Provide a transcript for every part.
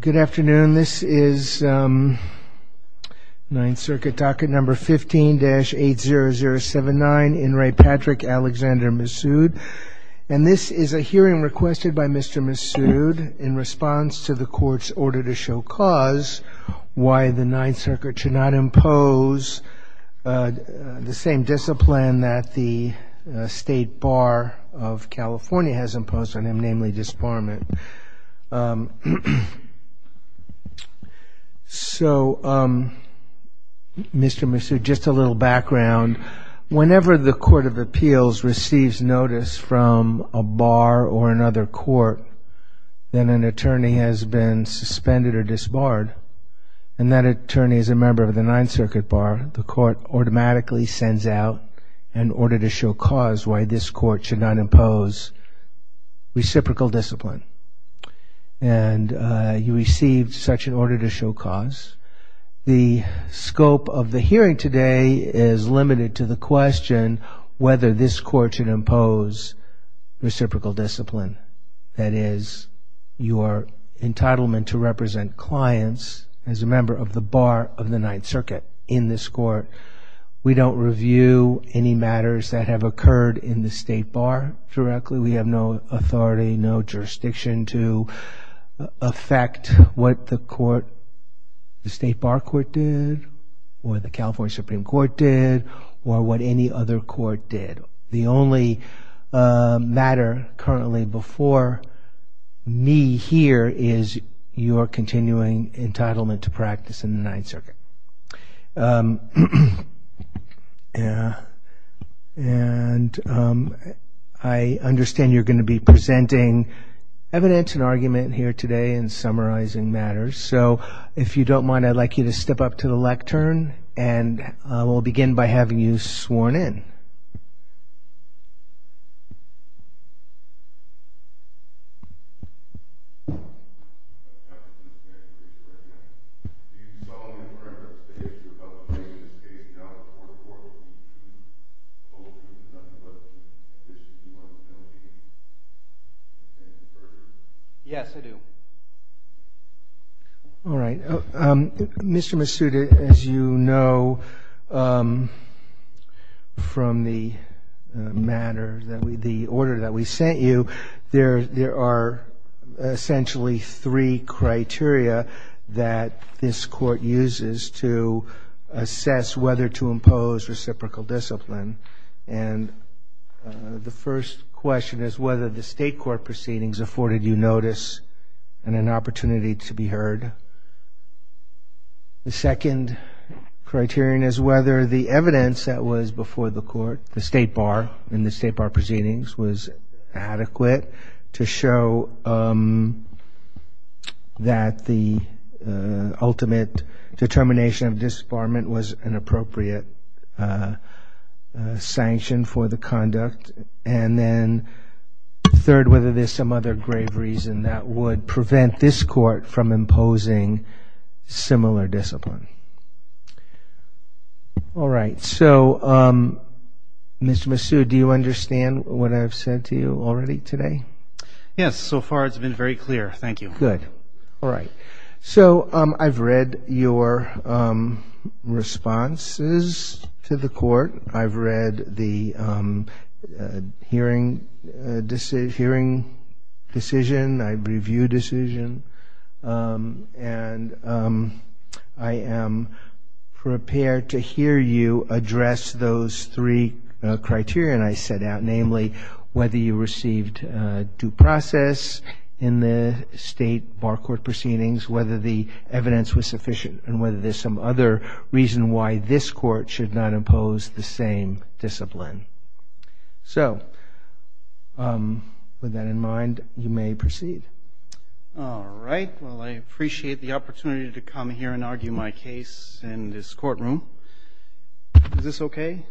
Good afternoon, this is Ninth Circuit docket number 15-80079, in re Patrick Alexandre Missud, and this is a hearing requested by Mr. Missud in response to the court's order to show cause why the Ninth Circuit should not impose the same discipline that the State Bar of California has imposed on him, namely disbarment. So, Mr. Missud, just a little background. Whenever the Court of Appeals receives notice from a bar or another court that an attorney has been suspended or disbarred, and that attorney is a member of the Ninth Circuit bar, the court automatically sends out an order to show cause why this court should not impose reciprocal discipline. And you received such an order to show cause. The scope of the hearing today is limited to the question whether this court should impose reciprocal discipline, that is, your entitlement to represent clients as a member of the bar of the Ninth Circuit in this court. We don't review any matters that have occurred in the State Bar directly. We have no authority, no jurisdiction to affect what the court, the State Bar Court did, or the California Supreme Court did, or what any other court did. So the only matter currently before me here is your continuing entitlement to practice in the Ninth Circuit. And I understand you're going to be presenting evidence and argument here today and summarizing matters. So if you don't mind, I'd like you to step up to the lectern, and we'll begin by having you sworn in. Yes, I do. All right. Mr. Masuda, as you know from the matter, the order that we sent you, there are essentially three criteria that this court uses to assess whether to impose reciprocal discipline. And the first question is whether the State Court proceedings afforded you notice and an opportunity to be heard. The second criterion is whether the evidence that was before the court, the State Bar, in the State Bar proceedings was adequate to show that the ultimate determination of disbarment was an appropriate sanction for the conduct. And then third, whether there's some other grave reason that would prevent this court from imposing similar discipline. All right. So, Mr. Masuda, do you understand what I've said to you already today? Yes. So far it's been very clear. Thank you. Good. All right. So I've read your responses to the court. I've read the hearing decision. I've reviewed decision. And I am prepared to hear you address those three criteria I set out, namely, whether you received due process in the State Bar Court proceedings, whether the evidence was sufficient, and whether there's some other reason why this court should not impose the same discipline. So, with that in mind, you may proceed. All right. Well, I appreciate the opportunity to come here and argue my case in this courtroom. Is this okay?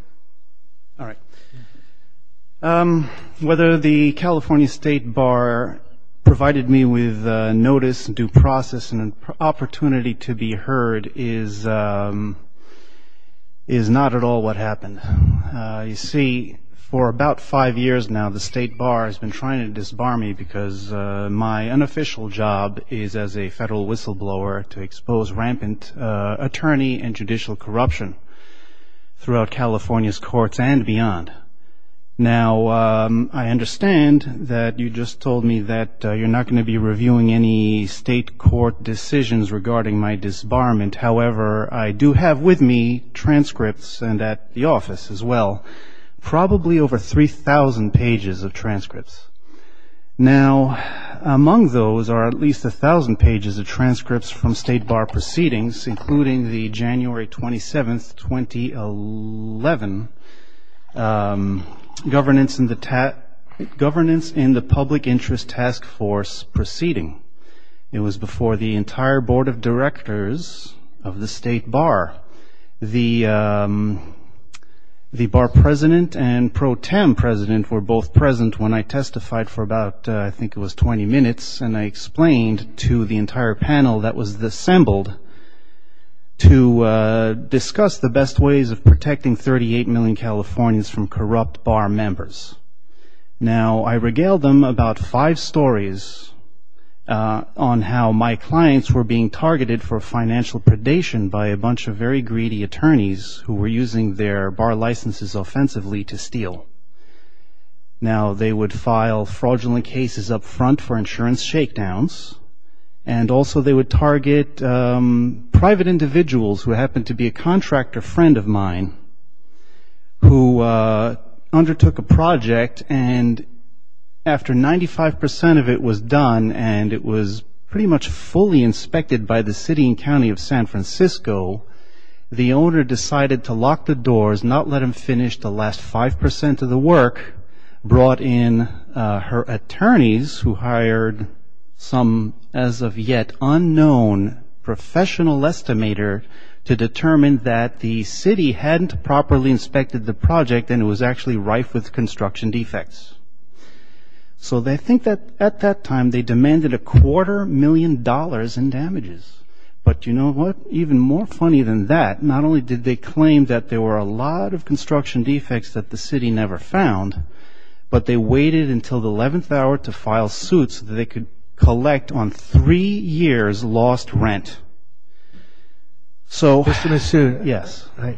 All right. Whether the California State Bar provided me with notice, due process, and opportunity to be heard is not at all what happened. You see, for about five years now, the State Bar has been trying to disbar me because my unofficial job is as a federal whistleblower to expose rampant attorney and judicial corruption throughout California's courts and beyond. Now, I understand that you just told me that you're not going to be reviewing any state court decisions regarding my disbarment. However, I do have with me transcripts and at the office as well, probably over 3,000 pages of transcripts. Now, among those are at least 1,000 pages of transcripts from State Bar proceedings, including the January 27, 2011, Governance in the Public Interest Task Force proceeding. It was before the entire Board of Directors of the State Bar. The Bar President and Pro Tem President were both present when I testified for about, I think it was 20 minutes, and I explained to the entire panel that was assembled to discuss the best ways of protecting 38 million Californians from corrupt Bar members. Now, I regaled them about five stories on how my clients were being targeted for financial predation by a bunch of very greedy attorneys who were using their Bar licenses offensively to steal. Now, they would file fraudulent cases up front for insurance shakedowns, and also they would target private individuals who happened to be a contractor friend of mine who undertook a project, and after 95% of it was done and it was pretty much fully inspected by the City and County of San Francisco, the owner decided to lock the doors, not let him finish the last 5% of the work, brought in her attorneys who hired some, as of yet, unknown professional estimator to determine that the City hadn't properly inspected the project and it was actually rife with construction defects. So they think that at that time they demanded a quarter million dollars in damages, but you know what, even more funny than that, not only did they claim that there were a lot of construction defects that the City never found, but they waited until the 11th hour to file suits so that they could collect on three years lost rent. So, yes. I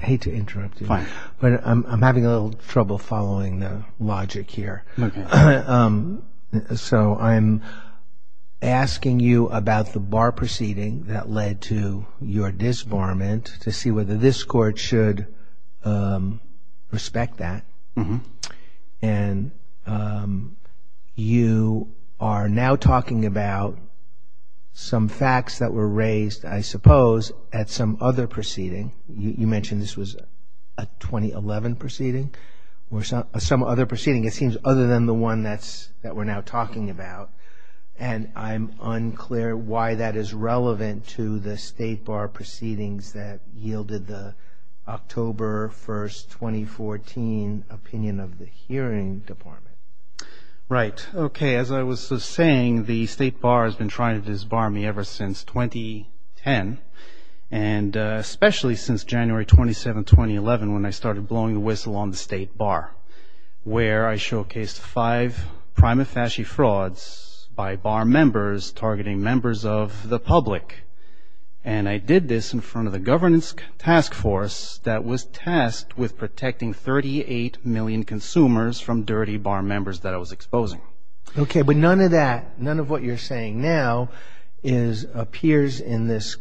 hate to interrupt you, but I'm having a little trouble following the logic here. So I'm asking you about the bar proceeding that led to your disbarment to see whether this Court should respect that, and you are now talking about some facts that were raised, I suppose, at some other proceeding. You mentioned this was a 2011 proceeding or some other proceeding, it seems, other than the one that we're now talking about, and I'm unclear why that is relevant to the State Bar proceedings that yielded the October 1st, 2014, opinion of the Hearing Department. Right. Okay, as I was just saying, the State Bar has been trying to disbar me ever since 2010, and especially since January 27, 2011, when I started blowing the whistle on the State Bar, where I showcased five prima facie frauds by bar members targeting members of the public, and I did this in front of a governance task force that was tasked with protecting 38 million consumers from dirty bar members that I was exposing. Okay, but none of that, none of what you're saying now appears in this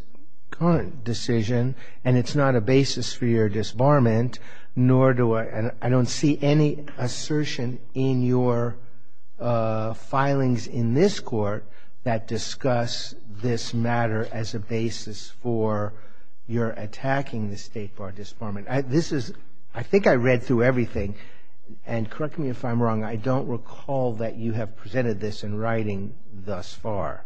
current decision, and it's not a basis for your disbarment, nor do I, and I don't see any assertion in your filings in this Court that discuss this matter as a basis for your attacking the State Bar disbarment. This is, I think I read through everything, and correct me if I'm wrong, I don't recall that you have presented this in writing thus far.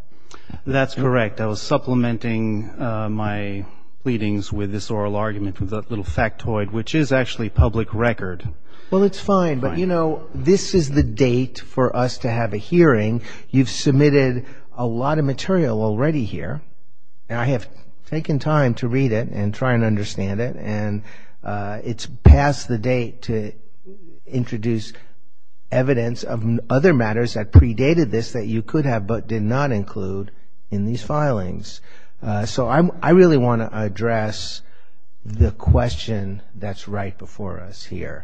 That's correct. I was supplementing my pleadings with this oral argument with a little factoid, which is actually public record. Well, it's fine, but, you know, this is the date for us to have a hearing. You've submitted a lot of material already here, and I have taken time to read it and try and understand it, and it's past the date to introduce evidence of other matters that predated this that you could have but did not include in these filings. So I really want to address the question that's right before us here.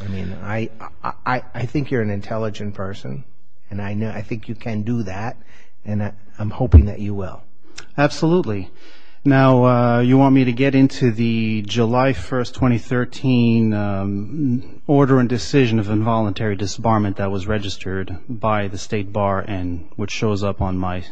I mean, I think you're an intelligent person, and I think you can do that, and I'm hoping that you will. Absolutely. Now, you want me to get into the July 1, 2013, Order and Decision of Involuntary Disbarment that was registered by the State Bar, and which shows up on my...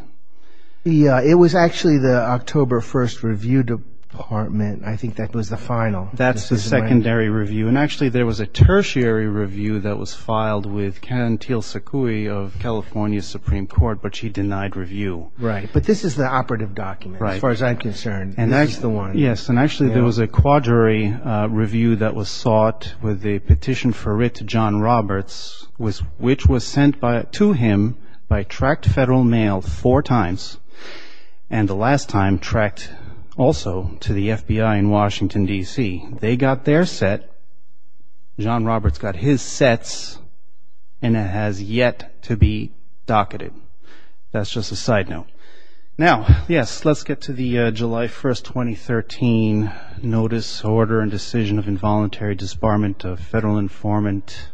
Yeah, it was actually the October 1 review department. I think that was the final. That's the secondary review, and actually there was a tertiary review that was filed with Ken Tilsakui of California Supreme Court, but she denied review. Right, but this is the operative document. As far as I'm concerned, this is the one. Yes, and actually there was a quadrary review that was sought with a petition for writ to John Roberts, which was sent to him by tracked federal mail four times, and the last time tracked also to the FBI in Washington, D.C. They got their set. John Roberts got his sets, and it has yet to be docketed. That's just a side note. Now, yes, let's get to the July 1, 2013 Notice, Order, and Decision of Involuntary Disbarment of Federal Informant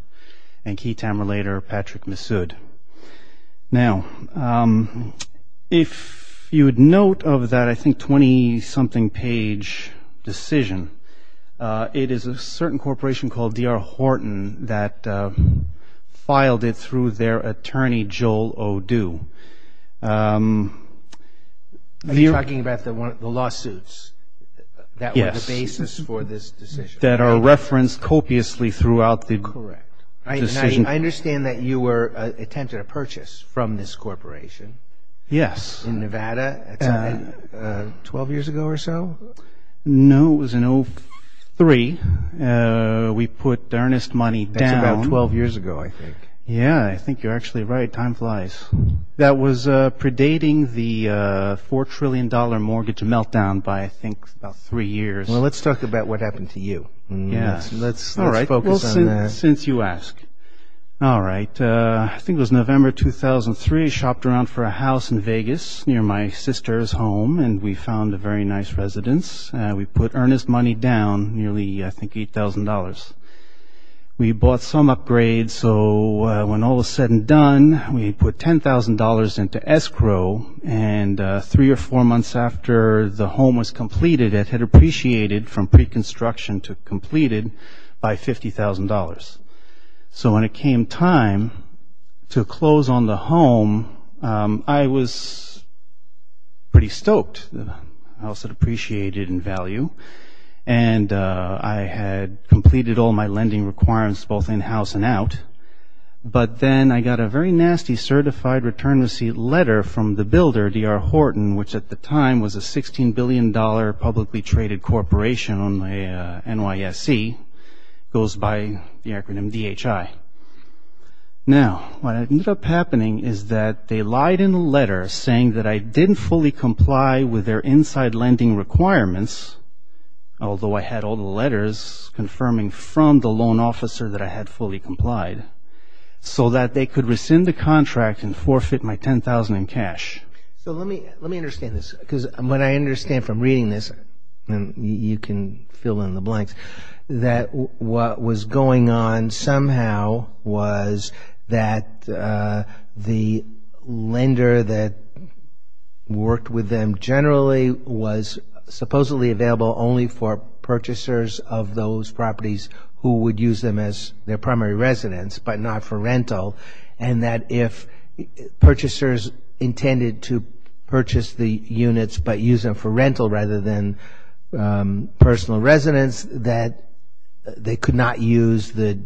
and Key Time Relator Patrick Massoud. Now, if you would note of that, I think, 20-something page decision, it is a certain corporation called D.R. Horton that filed it through their attorney, Joel O'Doo. Are you talking about the lawsuits that were the basis for this decision? Yes, that are referenced copiously throughout the decision. Correct. I understand that you were attempting a purchase from this corporation. Yes. In Nevada 12 years ago or so? No, it was in 2003. We put earnest money down. That's about 12 years ago, I think. Yes, I think you're actually right. Time flies. That was predating the $4 trillion mortgage meltdown by, I think, about three years. Well, let's talk about what happened to you. Yes. Let's focus on that. All right. Since you ask. All right. I think it was November 2003. We shopped around for a house in Vegas near my sister's home, and we found a very nice residence. We put earnest money down, nearly, I think, $8,000. We bought some upgrades, so when all was said and done, we put $10,000 into escrow, and three or four months after the home was completed, it had appreciated from pre-construction to completed by $50,000. So when it came time to close on the home, I was pretty stoked. The house had appreciated in value, and I had completed all my lending requirements both in-house and out, but then I got a very nasty certified return receipt letter from the builder, D.R. Horton, which at the time was a $16 billion publicly traded corporation on the NYFC, goes by the acronym DHI. Now, what ended up happening is that they lied in the letter saying that I didn't fully comply with their inside lending requirements, although I had all the letters confirming from the loan officer that I had fully complied, so that they could rescind the contract and forfeit my $10,000 in cash. So let me understand this, because what I understand from reading this, and you can fill in the blanks, that what was going on somehow was that the lender that worked with them generally was supposedly available only for purchasers of those properties who would use them as their primary residence, but not for rental, and that if purchasers intended to purchase the units, but use them for rental rather than personal residence, that they could not use the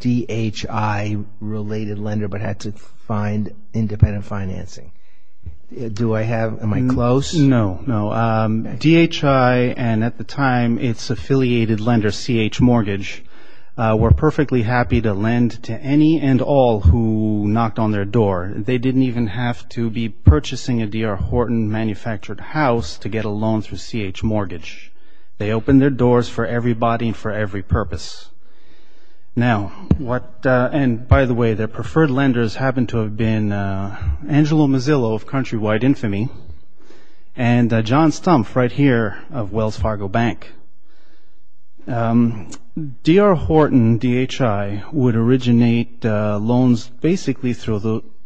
DHI-related lender, but had to find independent financing. Am I close? No. DHI and at the time its affiliated lender, CH Mortgage, were perfectly happy to lend to any and all who knocked on their door. They didn't even have to be purchasing a D.R. Horton manufactured house to get a loan through CH Mortgage. They opened their doors for everybody and for every purpose. Now, and by the way, their preferred lenders happen to have been Angelo Mazzillo of Countrywide Infamy and John Stumpf right here of Wells Fargo Bank. D.R. Horton DHI would originate loans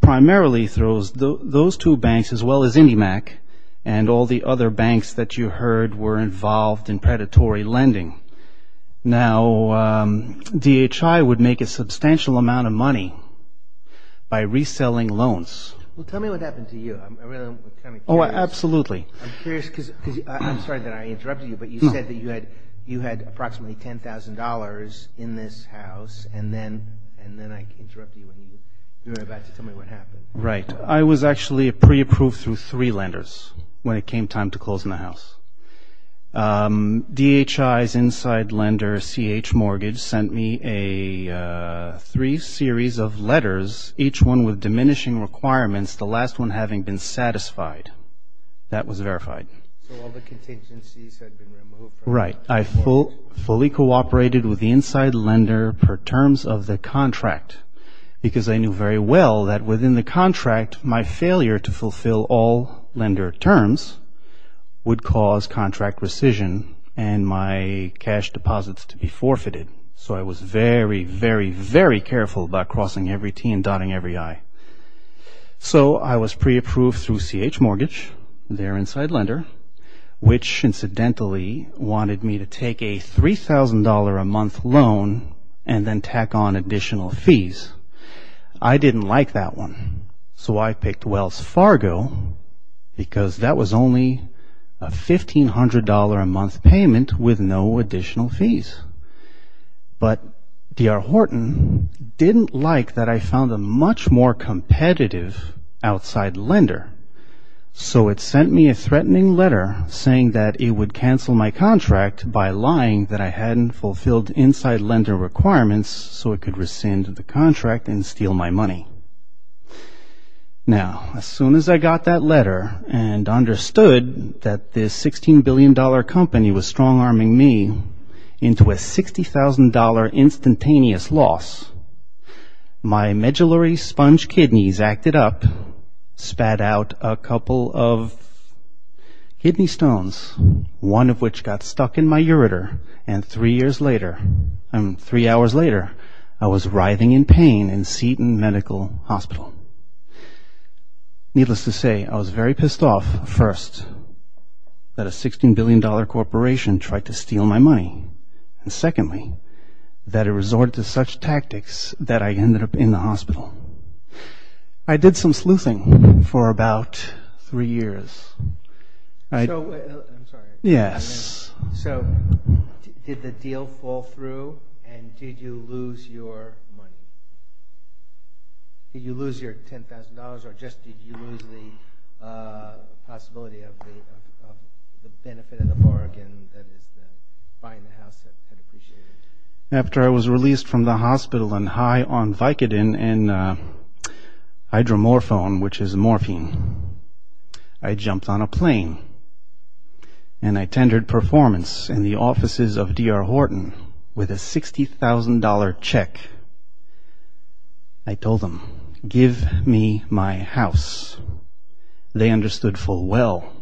primarily through those two banks as well as IndyMac and all the other banks that you heard were involved in predatory lending. Now, DHI would make a substantial amount of money by reselling loans. Well, tell me what happened to you. Oh, absolutely. I'm sorry that I interrupted you, but you said that you had approximately $10,000 in this house, and then I interrupted you and you were about to tell me what happened. Right. I was actually pre-approved through three lenders when it came time to close my house. DHI's inside lender, CH Mortgage, sent me three series of letters, each one with diminishing requirements, the last one having been satisfied. That was verified. Right. I fully cooperated with the inside lender per terms of the contract because I knew very well that within the contract, my failure to fulfill all lender terms would cause contract rescission and my cash deposits to be forfeited. So I was very, very, very careful about crossing every T and dotting every I. So I was pre-approved through CH Mortgage, their inside lender, which incidentally wanted me to take a $3,000 a month loan and then tack on additional fees. I didn't like that one, so I picked Wells Fargo because that was only a $1,500 a month payment with no additional fees. But D.R. Horton didn't like that I found a much more competitive outside lender, so it sent me a threatening letter saying that it would cancel my contract by lying that I hadn't fulfilled inside lender requirements so it could rescind the contract and steal my money. Now, as soon as I got that letter and understood that this $16 billion company was strong-arming me into a $60,000 instantaneous loss, my medullary sponge kidneys acted up, spat out a couple of kidney stones, one of which got stuck in my ureter, and three hours later I was writhing in pain in Seton Medical Hospital. Needless to say, I was very pissed off, first, that a $16 billion corporation tried to steal my money, and secondly, that it resorted to such tactics that I ended up in the hospital. I did some sleuthing for about three years. I'm sorry. Yes. So, did the deal fall through, and did you lose your money? Did you lose your $10,000, or just did you lose the possibility of the benefit of Oregon that is buying a house that's been appreciated? After I was released from the hospital on high on Vicodin and hydromorphone, which is morphine, I jumped on a plane and I tendered performance in the offices of D.R. Horton with a $60,000 check. I told them, give me my house. They understood full well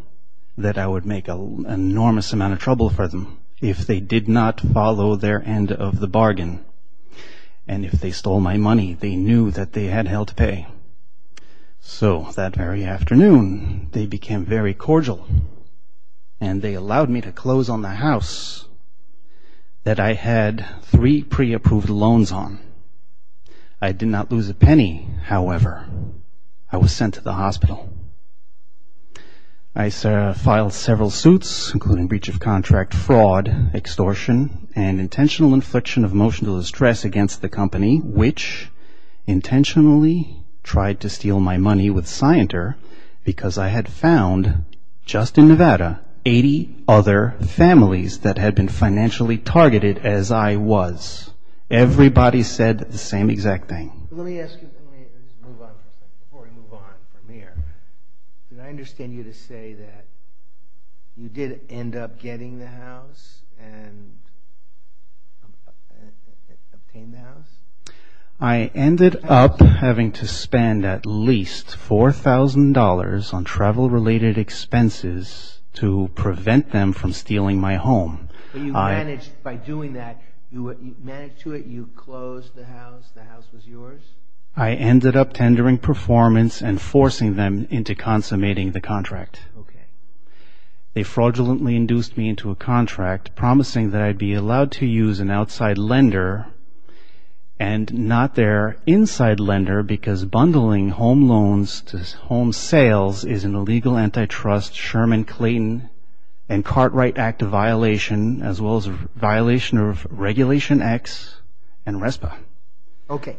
that I would make an enormous amount of trouble for them if they did not follow their end of the bargain, and if they stole my money, they knew that they had hell to pay. So, that very afternoon, they became very cordial, and they allowed me to close on the house that I had three pre-approved loans on. I did not lose a penny, however. I was sent to the hospital. I filed several suits, including breach of contract, fraud, extortion, and intentional infliction of emotional distress against the company, which intentionally tried to steal my money with Scienter because I had found, just in Nevada, 80 other families that had been financially targeted as I was. Everybody said the same exact thing. Let me ask you something before we move on from here. Did I understand you to say that you did end up getting the house, and obtained the house? I ended up having to spend at least $4,000 on travel-related expenses to prevent them from stealing my home. You managed, by doing that, you closed the house, the house was yours? I ended up tendering performance and forcing them into consummating the contract. They fraudulently induced me into a contract, promising that I'd be allowed to use an outside lender and not their inside lender because bundling home loans to home sales is an illegal antitrust, Sherman-Clayton and Cartwright Act violation, as well as a violation of Regulation X and RESPA. Okay.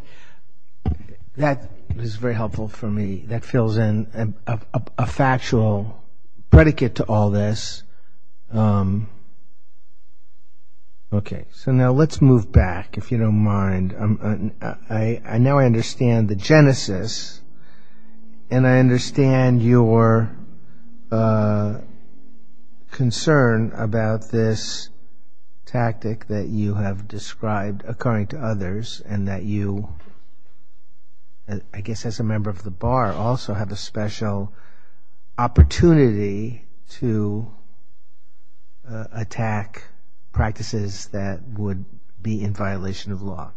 That is very helpful for me. That fills in a factual predicate to all this. Okay. So now let's move back, if you don't mind. I know I understand the genesis, and I understand your concern about this tactic that you have described, according to others, and that you, I guess as a member of the Bar, also have a special opportunity to attack practices that would be in violation of law.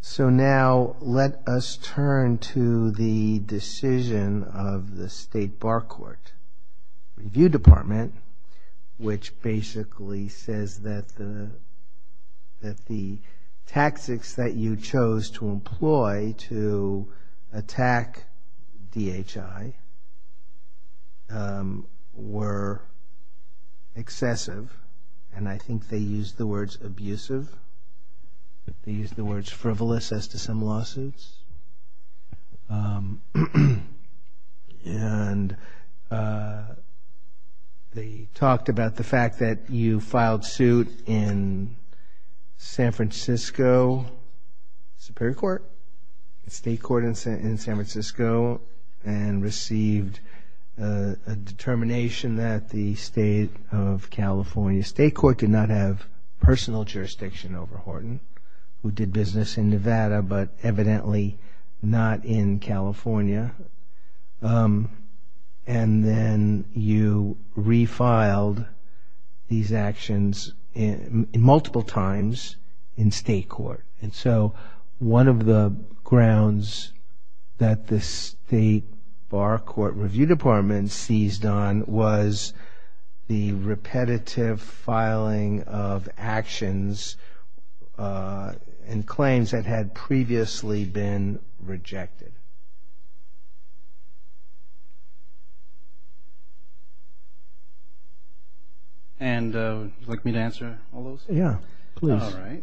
So now let us turn to the decision of the State Bar Court Review Department, which basically says that the tactics that you chose to employ to attack DHI were excessive, and I think they used the words abusive. They used the words frivolous as to some lawsuits. And they talked about the fact that you filed suit in San Francisco Superior Court, the state court in San Francisco, and received a determination that the State of California State Court did not have personal jurisdiction over Horton, who did business in Nevada, but evidently not in California. And then you refiled these actions multiple times in state court. And so one of the grounds that the State Bar Court Review Department seized on was the repetitive filing of actions and claims that had previously been rejected. And would you like me to answer all those? Yeah, please. All right.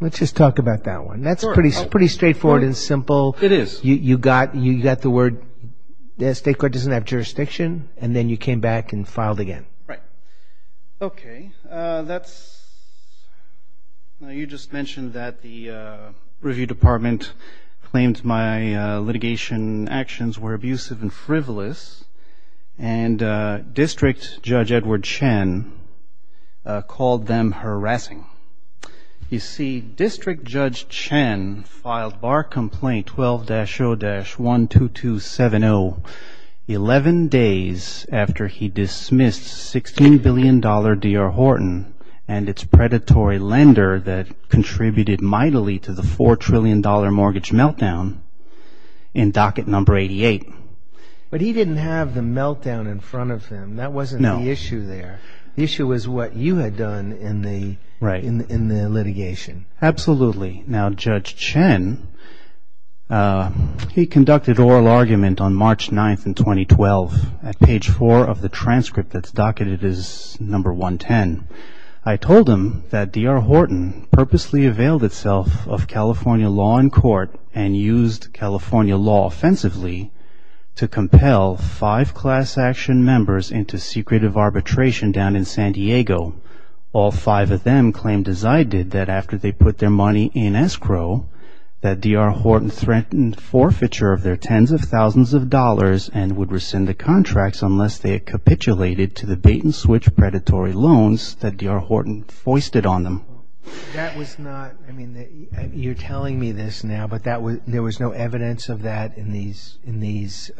Let's just talk about that one. That's pretty straightforward and simple. It is. You got the word, the state court doesn't have jurisdiction, and then you came back and filed again. Right. Okay. You just mentioned that the review department claims my litigation actions were abusive and frivolous, and District Judge Edward Chen called them harassing. You see, District Judge Chen filed bar complaint 12-0-12270 11 days after he dismissed $16 billion Deere Horton and its predatory lender that contributed mightily to the $4 trillion mortgage meltdown in docket number 88. But he didn't have the meltdown in front of him. No. That wasn't the issue there. The issue was what you had done in the litigation. Absolutely. Now, Judge Chen, he conducted oral argument on March 9th in 2012 at page 4 of the transcript that's docketed as number 110. I told him that Deere Horton purposely availed itself of California law in court and used California law offensively to compel five class action members into secretive arbitration down in San Diego. All five of them claimed, as I did, that after they put their money in escrow, that Deere Horton threatened forfeiture of their tens of thousands of dollars and would rescind the contracts unless they capitulated to the bait-and-switch predatory loans that Deere Horton foisted on them. That was not, I mean, you're telling me this now, but there was no evidence of that in these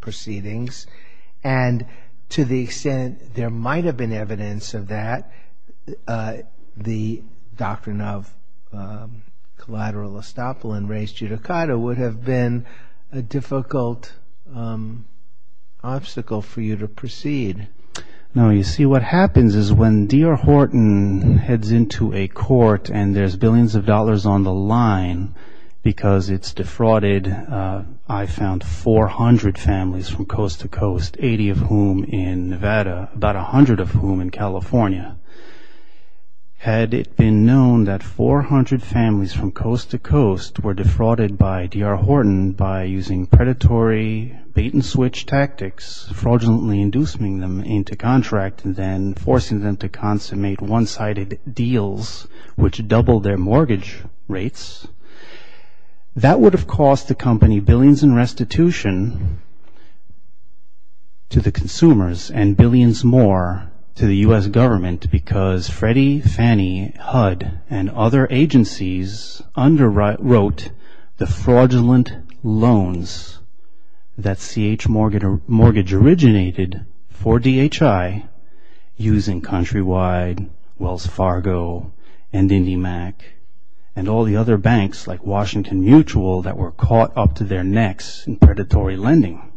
proceedings. And to the extent there might have been evidence of that, the doctrine of collateral estoppel and res judicata would have been a difficult obstacle for you to proceed. Now, you see, what happens is when Deere Horton heads into a court and there's billions of dollars on the line because it's defrauded, I found 400 families from coast to coast, 80 of whom in Nevada, about 100 of whom in California. Had it been known that 400 families from coast to coast were defrauded by Deere Horton by using predatory bait-and-switch tactics, fraudulently inducing them into contracts and then forcing them to consummate one-sided deals which doubled their mortgage rates, that would have cost the company billions in restitution to the consumers and billions more to the U.S. government because Freddie, Fannie, HUD, and other agencies underwrote the fraudulent loans that CH Mortgage originated for DHI using Countrywide, Wells Fargo, and IndyMac, and all the other banks like Washington Mutual that were caught up to their necks in predatory lending.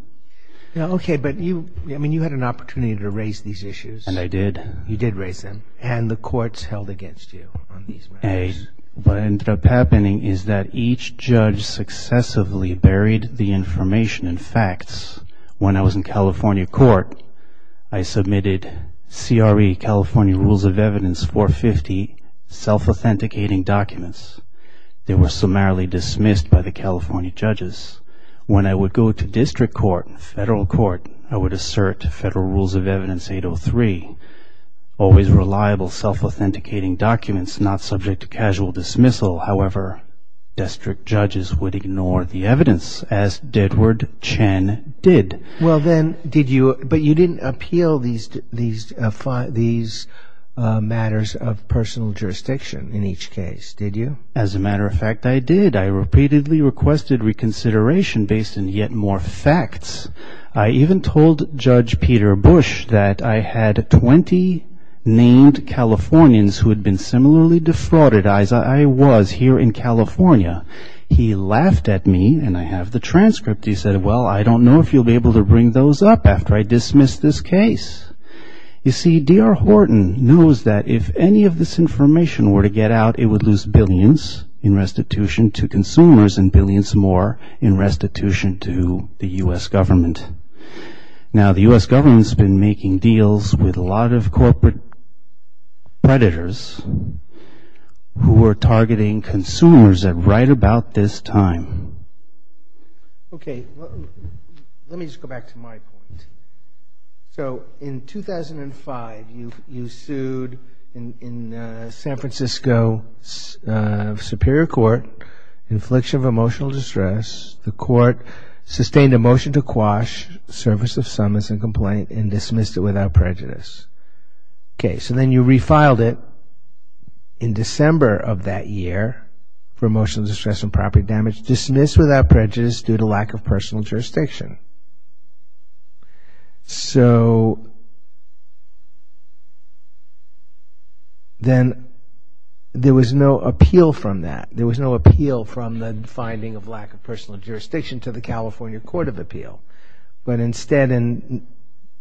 Now, okay, but you, I mean, you had an opportunity to raise these issues. And I did. You did raise them. And the courts held against you on these matters. What ended up happening is that each judge successively buried the information and facts. When I was in California court, I submitted CRE, California Rules of Evidence 450, self-authenticating documents. They were summarily dismissed by the California judges. When I would go to district court, federal court, I would assert Federal Rules of Evidence 803 always reliable, self-authenticating documents not subject to casual dismissal. However, district judges would ignore the evidence as Deadward Chen did. Well, then, did you, but you didn't appeal these matters of personal jurisdiction in each case, did you? As a matter of fact, I did. I repeatedly requested reconsideration based on yet more facts. I even told Judge Peter Bush that I had 20 named Californians who had been similarly defrauded. I was here in California. He laughed at me, and I have the transcript. He said, well, I don't know if you'll be able to bring those up after I dismiss this case. You see, D.R. Horton knows that if any of this information were to get out, it would lose billions in restitution to consumers and billions more in restitution to the U.S. government. Now, the U.S. government has been making deals with a lot of corporate predators who are targeting consumers at right about this time. Okay, let me just go back to my point. So, in 2005, you sued in the San Francisco Superior Court, infliction of emotional distress. The court sustained a motion to quash service of summons and complaint and dismissed it without prejudice. Okay, so then you refiled it in December of that year for emotional distress and property damage, and it was dismissed without prejudice due to lack of personal jurisdiction. So, then there was no appeal from that. There was no appeal from the finding of lack of personal jurisdiction to the California Court of Appeal. But instead, in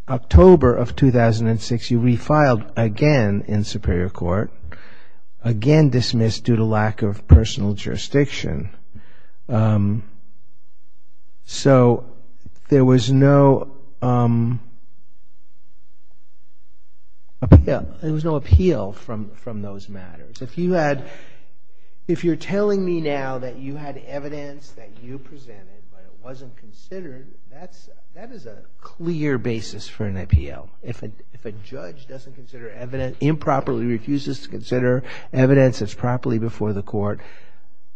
October of 2006, you refiled again in Superior Court, again dismissed due to lack of personal jurisdiction. So, there was no appeal from those matters. If you're telling me now that you had evidence that you presented, but it wasn't considered, that is a clear basis for an appeal. If a judge doesn't consider evidence, improperly refuses to consider evidence that's properly before the court,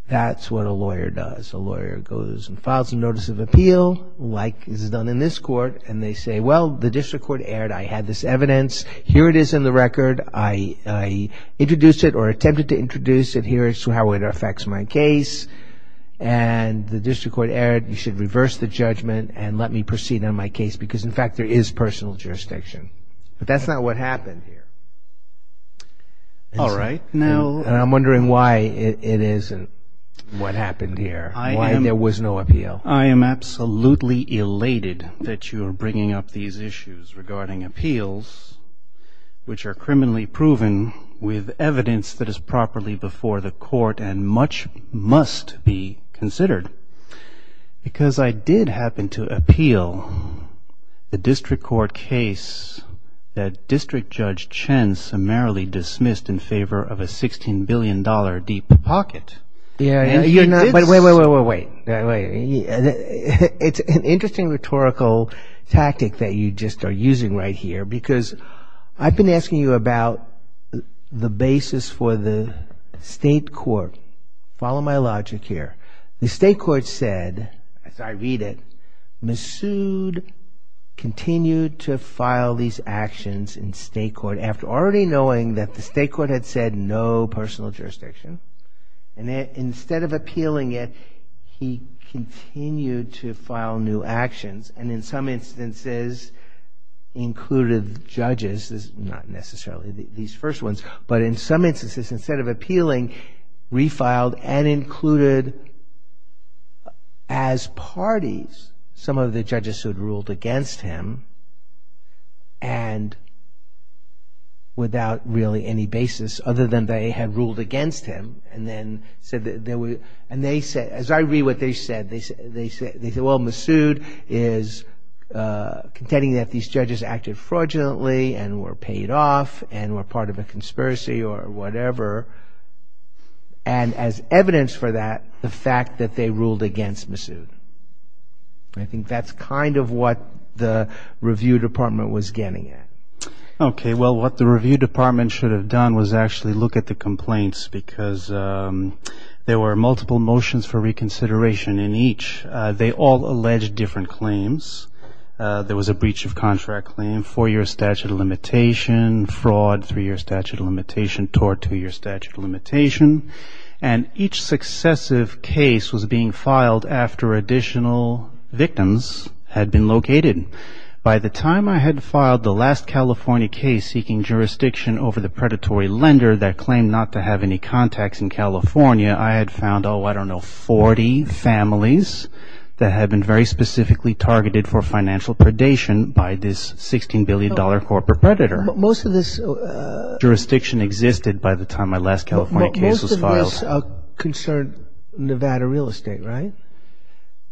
that's what a lawyer does. A lawyer goes and files a notice of appeal, like is done in this court, and they say, well, the district court erred. I had this evidence. Here it is in the record. I introduced it or attempted to introduce it here as to how it affects my case, and the district court erred. You should reverse the judgment and let me proceed on my case, because, in fact, there is personal jurisdiction. But that's not what happened here. And I'm wondering why it isn't what happened here, why there was no appeal. I am absolutely elated that you are bringing up these issues regarding appeals, which are criminally proven with evidence that is properly before the court and much must be considered. Because I did happen to appeal the district court case that District Judge Chen summarily dismissed in favor of a $16 billion deep pocket. Wait, wait, wait, wait. It's an interesting rhetorical tactic that you just are using right here, because I've been asking you about the basis for the state court. Follow my logic here. The state court said, as I read it, Massoud continued to file these actions in state court after already knowing that the state court had said there was no personal jurisdiction. And instead of appealing it, he continued to file new actions, and in some instances included judges, not necessarily these first ones, but in some instances, instead of appealing, refiled and included as parties some of the judges who had ruled against him, and without really any basis other than they had ruled against him. And then, as I read what they said, they said, well, Massoud is contending that these judges acted fraudulently and were paid off and were part of a conspiracy or whatever, and as evidence for that, the fact that they ruled against Massoud. I think that's kind of what the review department was getting at. Okay, well, what the review department should have done was actually look at the complaints, because there were multiple motions for reconsideration in each. They all alleged different claims. There was a breach of contract claim, four-year statute of limitation, fraud, three-year statute of limitation, tort, two-year statute of limitation, and each successive case was being filed after additional victims had been located. By the time I had filed the last California case seeking jurisdiction over the predatory lender that claimed not to have any contacts in California, I had found, oh, I don't know, 40 families that had been very specifically targeted for financial predation by this $16 billion corporate predator. Jurisdiction existed by the time my last California case was filed.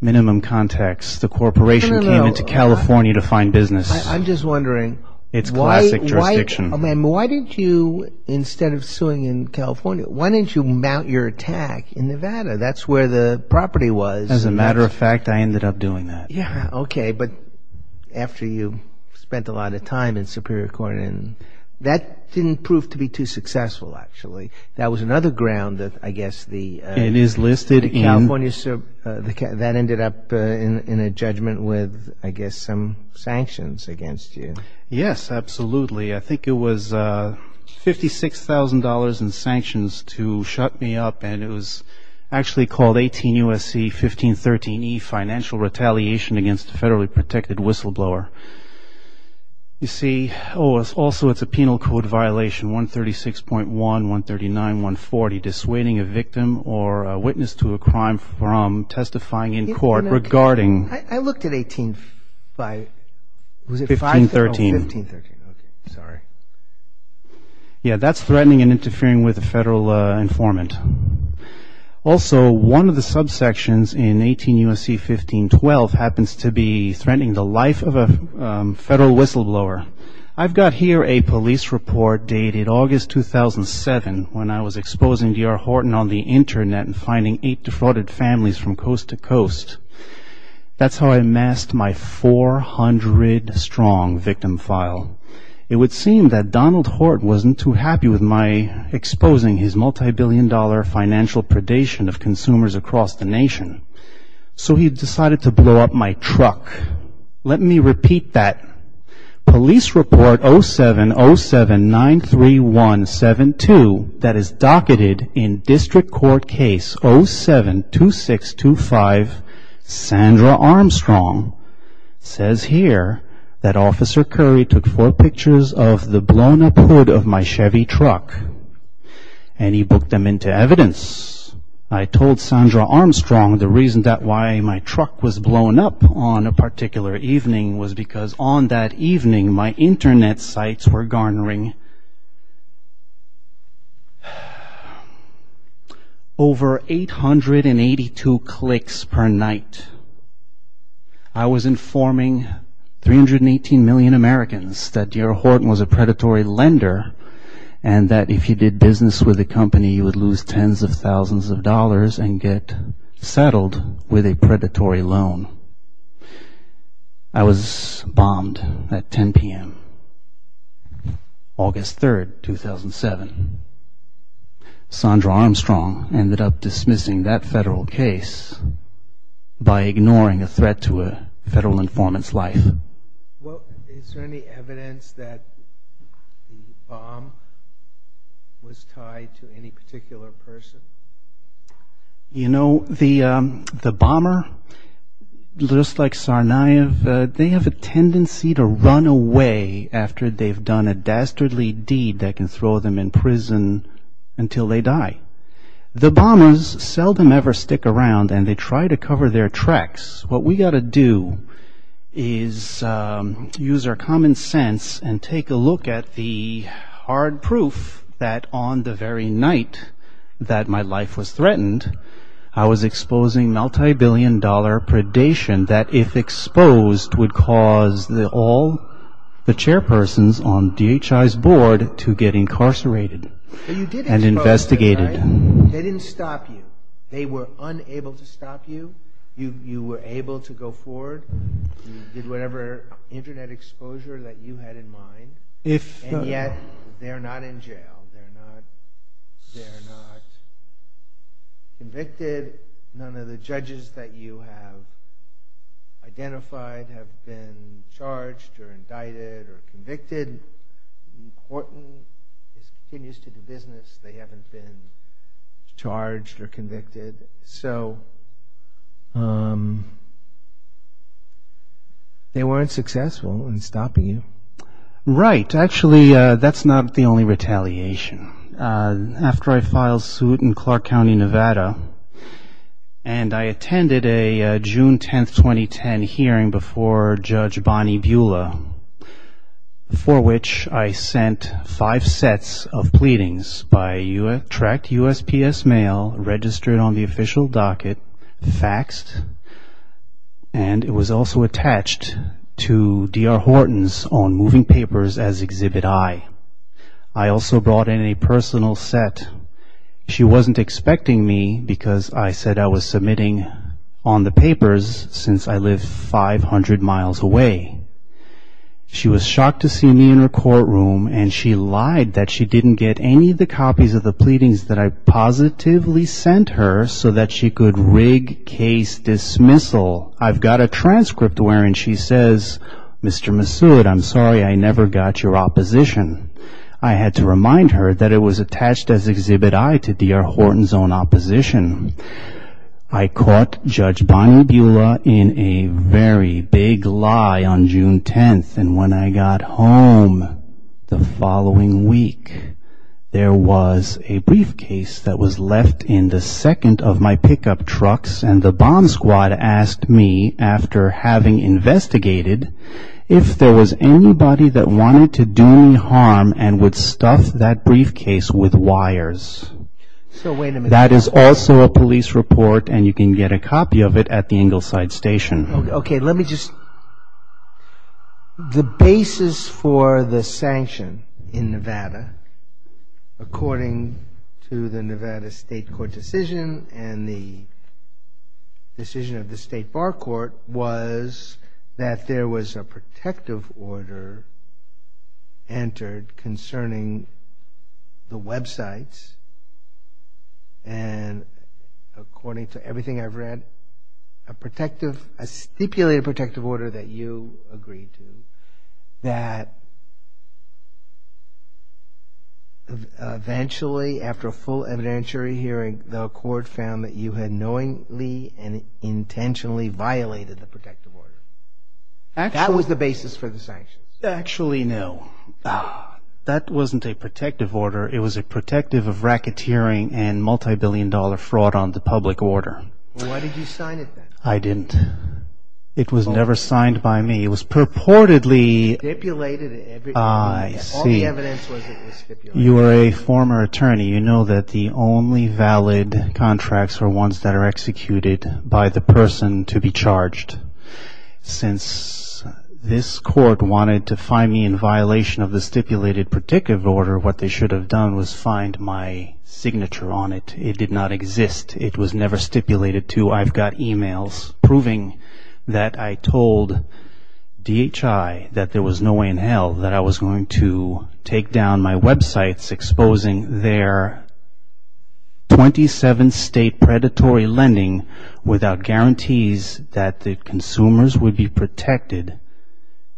Minimum contacts. The corporation came into California to find business. It's classic jurisdiction. I mean, why didn't you, instead of suing in California, why didn't you mount your attack in Nevada? That's where the property was. As a matter of fact, I ended up doing that. Yeah, okay, but after you spent a lot of time in Superior Court, and that didn't prove to be too successful, actually. That was another ground that, I guess, the California, that ended up in a judgment with, I guess, some sanctions against you. Yes, absolutely. I think it was $56,000 in sanctions to shut me up, and it was actually called 18 U.S.C. 1513E, financial retaliation against a federally protected whistleblower. You see, oh, also it's a penal code violation, 136.1, 139, 140, dissuading a victim or a witness to a crime from testifying in court regarding... 1513. Yeah, that's threatening and interfering with a federal informant. Also, one of the subsections in 18 U.S.C. 1512 happens to be threatening the life of a federal whistleblower. I've got here a police report dated August 2007, when I was exposing D.R. Horton on the Internet and finding eight defrauded families from coast to coast. It would seem that Donald Horton wasn't too happy with my exposing his multibillion dollar financial predation of consumers across the nation, so he decided to blow up my truck. Let me repeat that. Police Report 070793172, that is docketed in District Court Case 072625, Sandra Armstrong says here that Officer Curry took four pictures of the blown up hood of my Chevy truck and he booked them into evidence. I told Sandra Armstrong the reason that why my truck was blown up on a particular evening was because on that evening my Internet sites were garnering... I was informing 318 million Americans that D.R. Horton was a predatory lender and that if he did business with the company he would lose tens of thousands of dollars and get settled with a predatory loan. I was bombed at 10 p.m. August 3, 2007. Sandra Armstrong ended up dismissing that federal case by ignoring a threat to a federal informant's life. Well, is there any evidence that the bomb was tied to any particular person? You know, the bomber, just like Tsarnaev, they have a tendency to run away after they've done a dastardly deed that can throw them in prison until they die. The bombers seldom ever stick around and they try to cover their tracks. What we've got to do is use our common sense and take a look at the hard proof that on the very night that my life was threatened I was exposing multi-billion dollar predation that if exposed would cause all the chairpersons on D.H.I.'s board to get incarcerated and investigated. They didn't stop you. They were unable to stop you. You were able to go forward. You did whatever Internet exposure that you had in mind. And yet they're not in jail. They're not convicted. None of the judges that you have identified have been charged or indicted or convicted. Importantly, it continues to be business. They haven't been charged or convicted. So they weren't successful in stopping you. Right. Actually that's not the only retaliation. After I filed suit in Clark County, Nevada, and I attended a June 10, 2010 hearing before Judge Bonnie Beulah, for which I sent five sets of pleadings by tracked USPS mail, registered on the official docket, faxed, and it was also attached to D.R. Horton's on moving papers as Exhibit I. I also brought in a personal set. She wasn't expecting me because I said I was submitting on the papers since I live 500 miles away. She was shocked to see me in her courtroom and she lied that she didn't get any of the copies of the pleadings that I positively sent her so that she could rig case dismissal. So I've got a transcript wherein she says, Mr. Massoud, I'm sorry I never got your opposition. I had to remind her that it was attached as Exhibit I to D.R. Horton's own opposition. I caught Judge Bonnie Beulah in a very big lie on June 10, and when I got home the following week, there was a briefcase that was left in the second of my pickup trucks and the bomb squad asked me, after having investigated, if there was anybody that wanted to do me harm and would stuff that briefcase with wires. That is also a police report and you can get a copy of it at the Ingleside Station. The basis for the sanction in Nevada, according to the Nevada State Court decision, and the decision of the State Bar Court, was that there was a protective order entered concerning the websites and, according to everything I've read, a particularly protective order that you agreed to, that eventually, after a full evidentiary hearing, the court found that you had knowingly and intentionally violated the protective order. That was the basis for the sanction. Actually, no. That wasn't a protective order. It was a protective of racketeering and multi-billion dollar fraud on the public order. Why did you sign it then? I didn't. It was never signed by me. You were a former attorney. You know that the only valid contracts are ones that are executed by the person to be charged. Since this court wanted to find me in violation of the stipulated protective order, what they should have done was find my signature on it. It did not exist. It was never stipulated to I've got e-mails proving that I told DHI that there was no way in hell that I was going to take down my websites exposing their 27 state predatory lending without guarantees that the consumers would be protected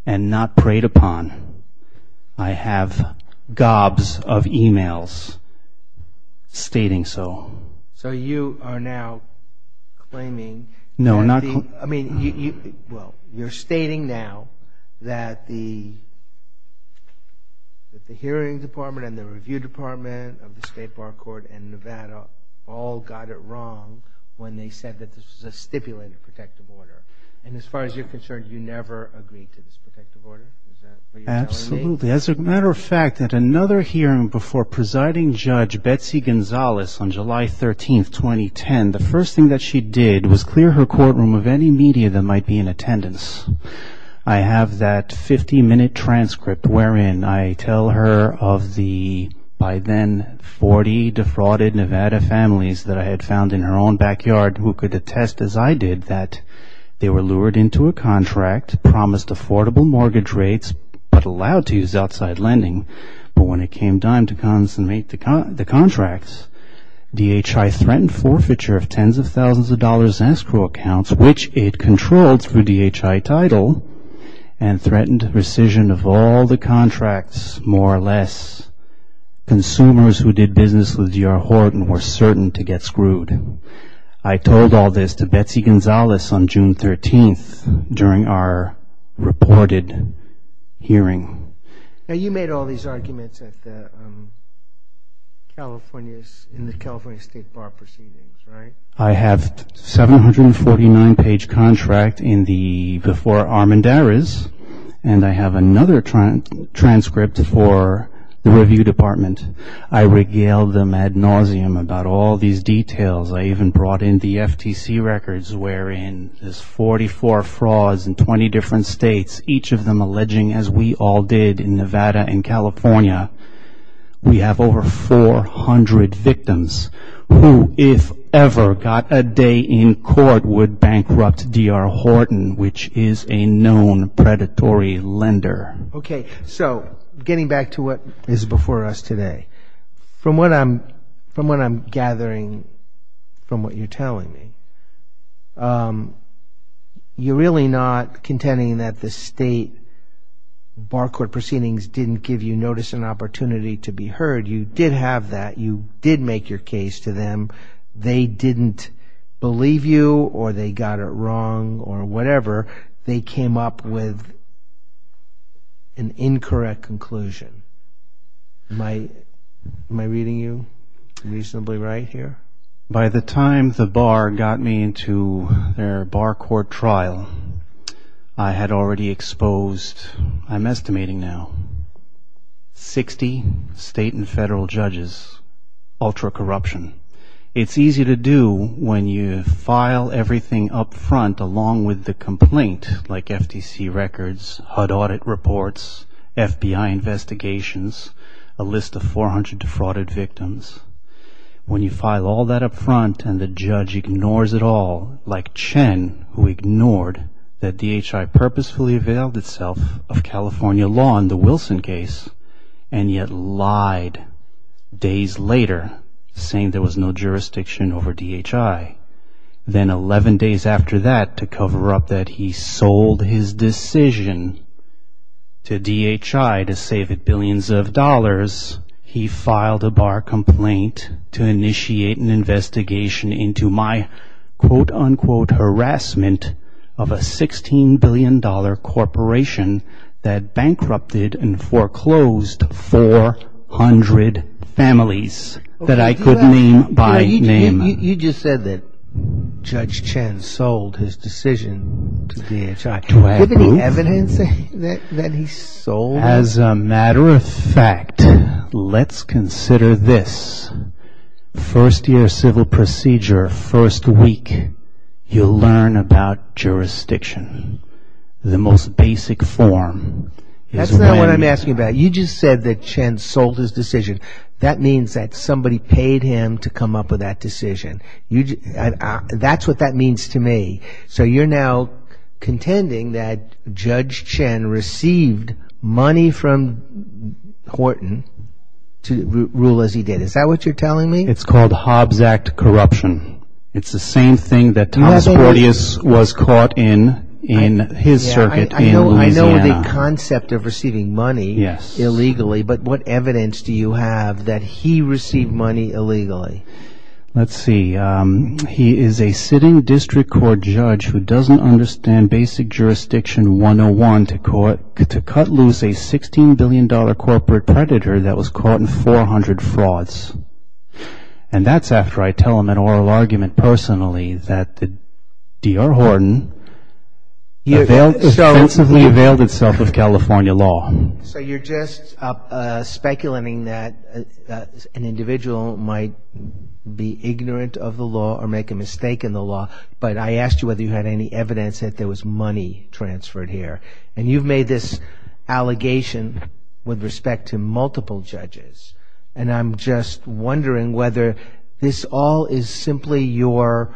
and not preyed upon. I have gobs of e-mails stating so. So you are now claiming... You're stating now that the hearing department and the review department of the State Bar Court in Nevada all got it wrong when they said that this was a stipulated protective order. As far as you're concerned, you never agreed to this protective order? Absolutely. As a matter of fact, at another hearing before presiding judge Betsy Gonzalez on July 13, 2010, the first thing that she did was clear her courtroom of any media that might be in attendance. I have that 50-minute transcript wherein I tell her of the by then 40 defrauded Nevada families that I had found in her own backyard who could attest, as I did, that they were lured into a contract, promised affordable mortgage rates, but allowed to use outside lending, but when it came time to consummate the contracts, DHI threatened forfeiture of tens of thousands of dollars in escrow accounts, which it controlled through DHI title and threatened rescission of all the contracts, more or less, consumers who did business with your hoard and were certain to get screwed. I told all this to Betsy Gonzalez on June 13 during our reported hearing. And you made all these arguments that California State Bar proceeded, right? I have a 749-page contract before Armendariz, and I have another transcript for the review department. I regaled them ad nauseum about all these details. I even brought in the FTC records wherein there's 44 frauds in 20 different states, each of them alleging, as we all did in Nevada and California, we have over 400 victims who, if ever got a day in court, would bankrupt D.R. Horton, which is a known predatory lender. Okay, so getting back to what is before us today. From what I'm gathering from what you're telling me, you're really not contending that the state bar court proceedings didn't give you notice and opportunity to be heard. You did have that. You did make your case to them. They didn't believe you or they got it wrong or whatever. They came up with an incorrect conclusion. Am I reading you reasonably right here? By the time the bar got me into their bar court trial, I had already exposed, I'm estimating now, 60 state and federal judges, ultra-corruption. It's easy to do when you file everything up front along with the complaint, like FTC records, HUD audit reports, FBI investigations, a list of 400 defrauded victims. When you file all that up front and the judge ignores it all, like Chen who ignored that D.H.I. purposefully availed itself of California law in the Wilson case and yet lied days later saying there was no jurisdiction over D.H.I. Then 11 days after that to cover up that he sold his decision to D.H.I. to save it billions of dollars, he filed a bar complaint to initiate an investigation into my quote-unquote harassment of a $16 billion corporation that bankrupted and foreclosed 400 families that I could name by name. You just said that Judge Chen sold his decision to D.H.I. Let's consider this. First year civil procedure, first week, you'll learn about jurisdiction. The most basic form. That's not what I'm asking about. You just said that Chen sold his decision. That means that somebody paid him to come up with that decision. That's what that means to me. So you're now contending that Judge Chen received money from Horton to rule as he did. Is that what you're telling me? It's called Hobbs Act corruption. It's the same thing that was caught in his circuit. I know the concept of receiving money illegally, but what evidence do you have that he received money illegally? Let's see. He is a sitting district court judge who doesn't understand basic jurisdiction 101 to cut loose a $16 billion corporate predator that was caught in 400 frauds. And that's after I tell him an oral argument personally that D.R. Horton expensively availed itself of California law. So you're just speculating that an individual might be ignorant of the law or make a mistake in the law. But I asked you whether you had any evidence that there was money transferred here. And you've made this allegation with respect to multiple judges. And I'm just wondering whether this all is simply your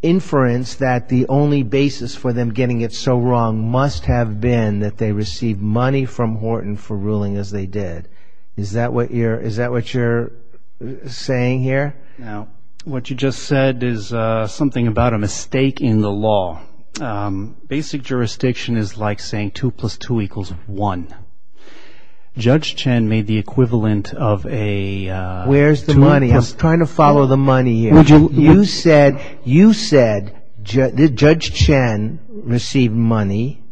inference that the only basis for them getting it so wrong must have been that they received money from Horton for ruling as they did. Is that what you're saying here? What you just said is something about a mistake in the law. Basic jurisdiction is like saying 2 plus 2 equals 1. Judge Chen made the equivalent of a... I'm trying to follow the money here. You said Judge Chen received money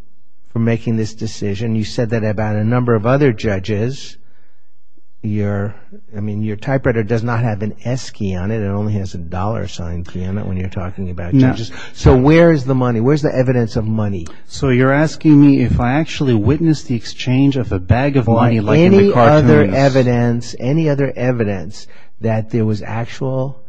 for making this decision. You said that about a number of other judges. Your typewriter does not have an S key on it. It only has a dollar sign key on it when you're talking about... So where's the money? Where's the evidence of money? So you're asking me if I actually witnessed the exchange of a bag of money like in the cartoons. Any other evidence that there was actual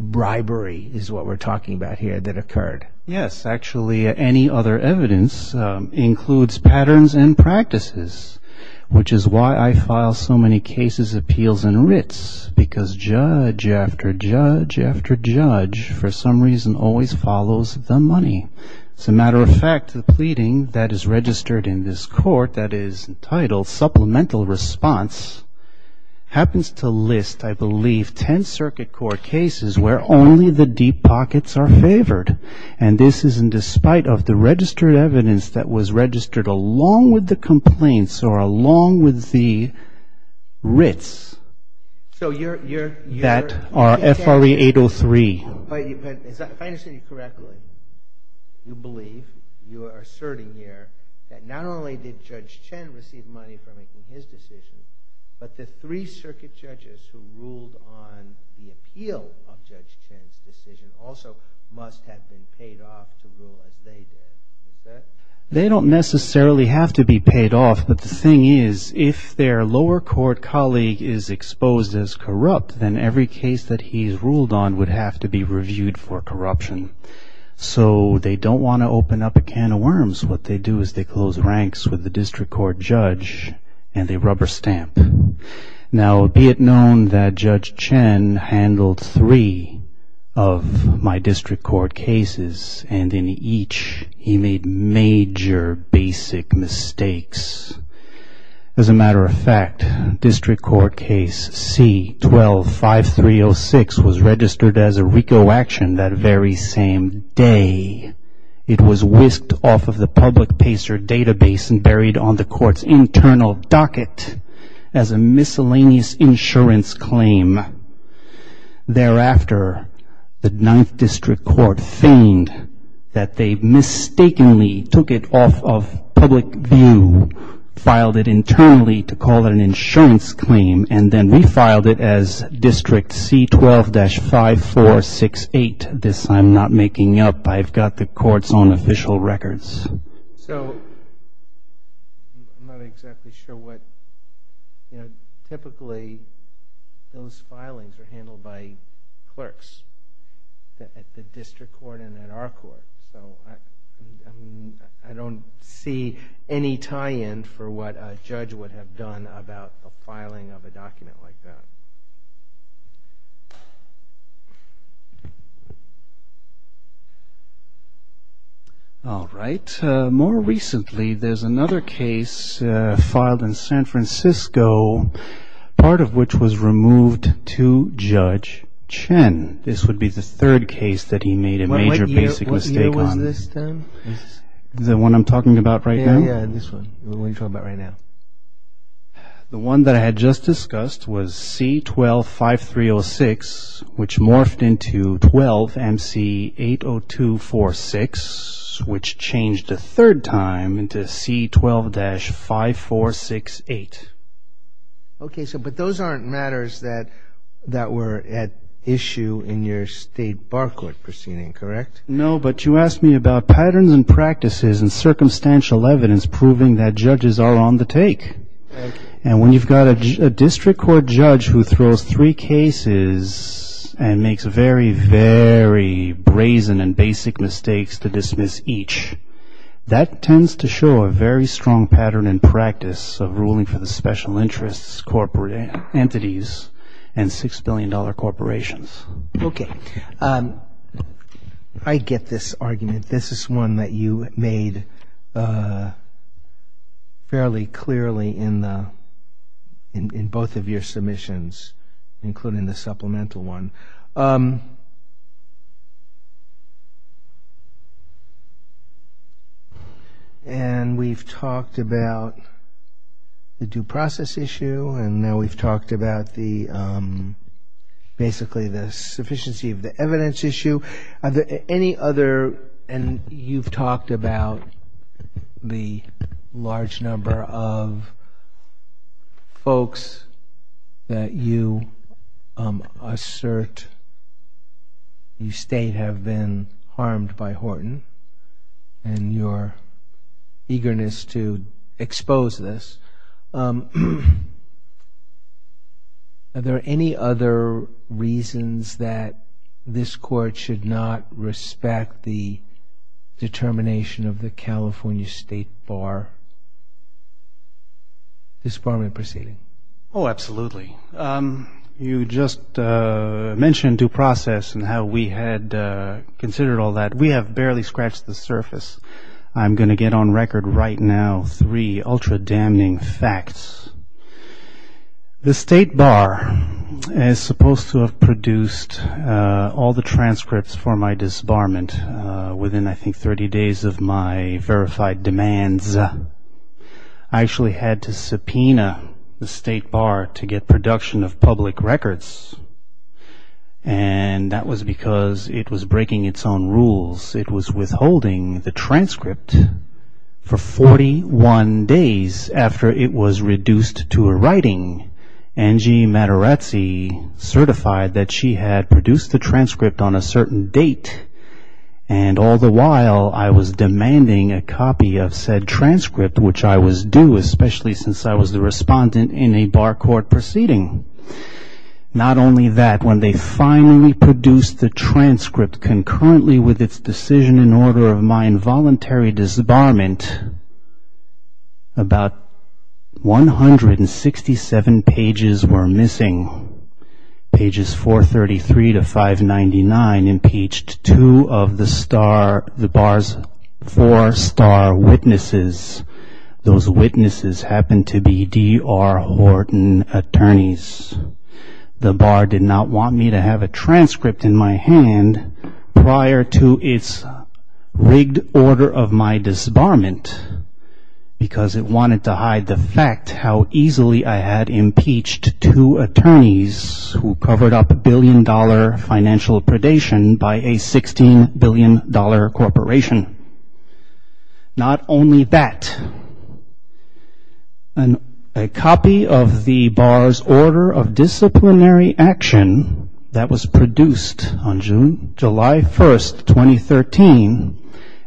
bribery is what we're talking about here that occurred. Yes, actually any other evidence includes patterns and practices. Which is why I file so many cases, appeals, and writs. Because judge after judge after judge for some reason always follows the money. As a matter of fact, the pleading that is registered in this court that is entitled Supplemental Response happens to list, I believe, 10 circuit court cases where only the deep pockets are favored. And this is in despite of the registered evidence that was registered along with the complaints or along with the writs that are FRE 803. If I understand you correctly, you believe, you are asserting here, that not only did Judge Chen receive money for making his decision, but the three circuit judges who ruled on the appeal of Judge Chen's decision also must have been paid off the rule as they did. They don't necessarily have to be paid off, but the thing is, if their lower court colleague is exposed as corrupt, then every case that he's ruled on would have to be reviewed for corruption. So, they don't want to open up a can of worms. What they do is they close ranks with the district court judge and they rubber stamp. Now, be it known that Judge Chen handled three of my district court cases, and in each he made major basic mistakes. As a matter of fact, district court case C-12-5306 was registered as a RICO action that very same day. It was whisked off of the public pacer database and buried on the court's internal docket as a miscellaneous insurance claim. Thereafter, the ninth district court feigned that they mistakenly took it off of public view, filed it internally to call it an insurance claim, and then refiled it as district C-12-5468. This I'm not making up. I've got the court's own official records. So, I'm not exactly sure what, you know, typically those filings are handled by clerks at the district court and at our court. So, I don't see any tie-in for what a judge would have done about the filing of a document like that. All right. More recently, there's another case filed in San Francisco, part of which was removed to Judge Chen. This would be the third case that he made a major basic mistake on. The one I'm talking about right now? The one that I had just discussed was C-12-5306, which morphed into 12-MC-80246, which changed a third time into C-12-5468. Okay, but those aren't matters that were at issue in your state bar court proceeding, correct? No, but you asked me about patterns and practices and circumstantial evidence proving that judges are on the take. And when you've got a district court judge who throws three cases and makes very, very brazen and basic mistakes to dismiss each, that tends to show a very strong pattern and practice of ruling for the special interests corporate entities and $6 billion corporations. Okay. I get this argument. This is one that you made fairly clearly in both of your submissions, including the supplemental one. And we've talked about the due process issue. And now we've talked about basically the sufficiency of the evidence issue. And you've talked about the large number of folks that you assert the state have been harmed by Horton and your eagerness to expose this. Are there any other reasons that this court should not respect the determination of the California State Bar, this barmen proceeding? Oh, absolutely. You just mentioned due process and how we had considered all that. We have barely scratched the surface. I'm going to get on record right now three ultra damning facts. The state bar is supposed to have produced all the transcripts for my disbarment within, I think, 30 days of my verified demands. I actually had to subpoena the state bar to get production of public records. And that was because it was breaking its own rules. It was withholding the transcript for 41 days after it was reduced to a writing. Angie Matarazzi certified that she had produced the transcript on a certain date. And all the while I was demanding a copy of said transcript, which I was due, especially since I was the respondent in a bar court proceeding. Not only that, when they finally produced the transcript concurrently with its decision in order of my involuntary disbarment, about 167 pages were missing. Pages 433 to 599 impeached two of the bar's four star witnesses. Those witnesses happened to be D.R. Horton attorneys. The bar did not want me to have a transcript in my hand prior to its rigged order of my disbarment, because it wanted to hide the fact how easily I had impeached two attorneys who covered up a billion dollar financial predation by a $16 billion corporation. Not only that, a copy of the bar's order of disciplinary action that was produced on July 1st, 2013,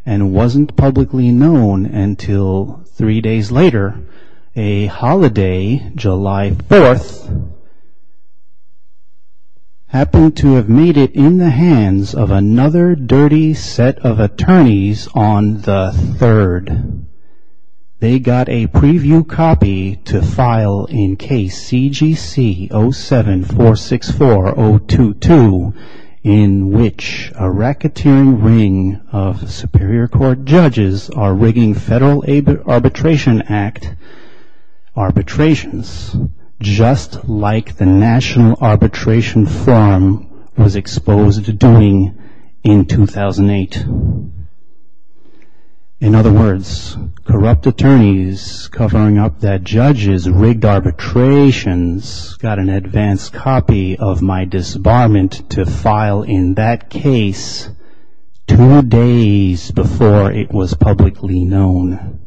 and wasn't publicly known until three days later, a holiday, July 4th, happened to have made it in the hands of another dirty set of attorneys on the 3rd. They got a preview copy to file in case CGC 07464022, in which a racketeering ring of Superior Court judges are rigging Federal Arbitration Act arbitrations, just like the National Arbitration Forum was exposed to doing in 2008. In other words, corrupt attorneys covering up that judges rigged arbitrations got an advanced copy of my disbarment to file in that case two days before it was publicly known.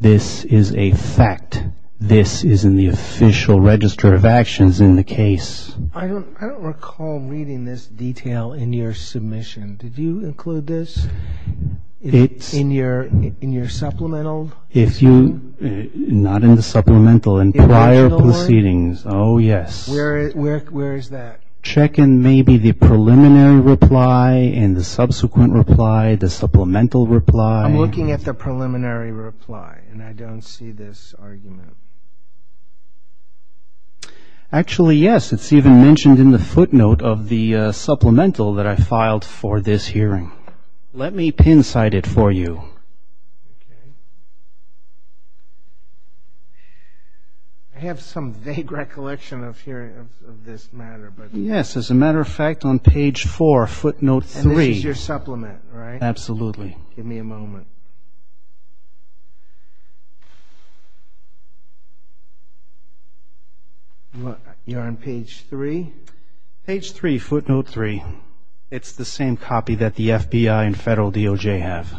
This is a fact. This is in the official register of actions in the case. I don't recall reading this detail in your submission. Did you include this in your supplemental? Not in the supplemental, in prior proceedings. Oh, yes. Where is that? Checking maybe the preliminary reply and the subsequent reply, the supplemental reply. I'm looking at the preliminary reply, and I don't see this argument. Actually, yes, it's even mentioned in the footnote of the supplemental that I filed for this hearing. Let me pin-cite it for you. I have some vague recollection of this matter. Yes, as a matter of fact, on page 4, footnote 3. And this is your supplement, right? Absolutely. Give me a moment. You're on page 3? Page 3, footnote 3. It's the same copy that the FBI and Federal DOJ have.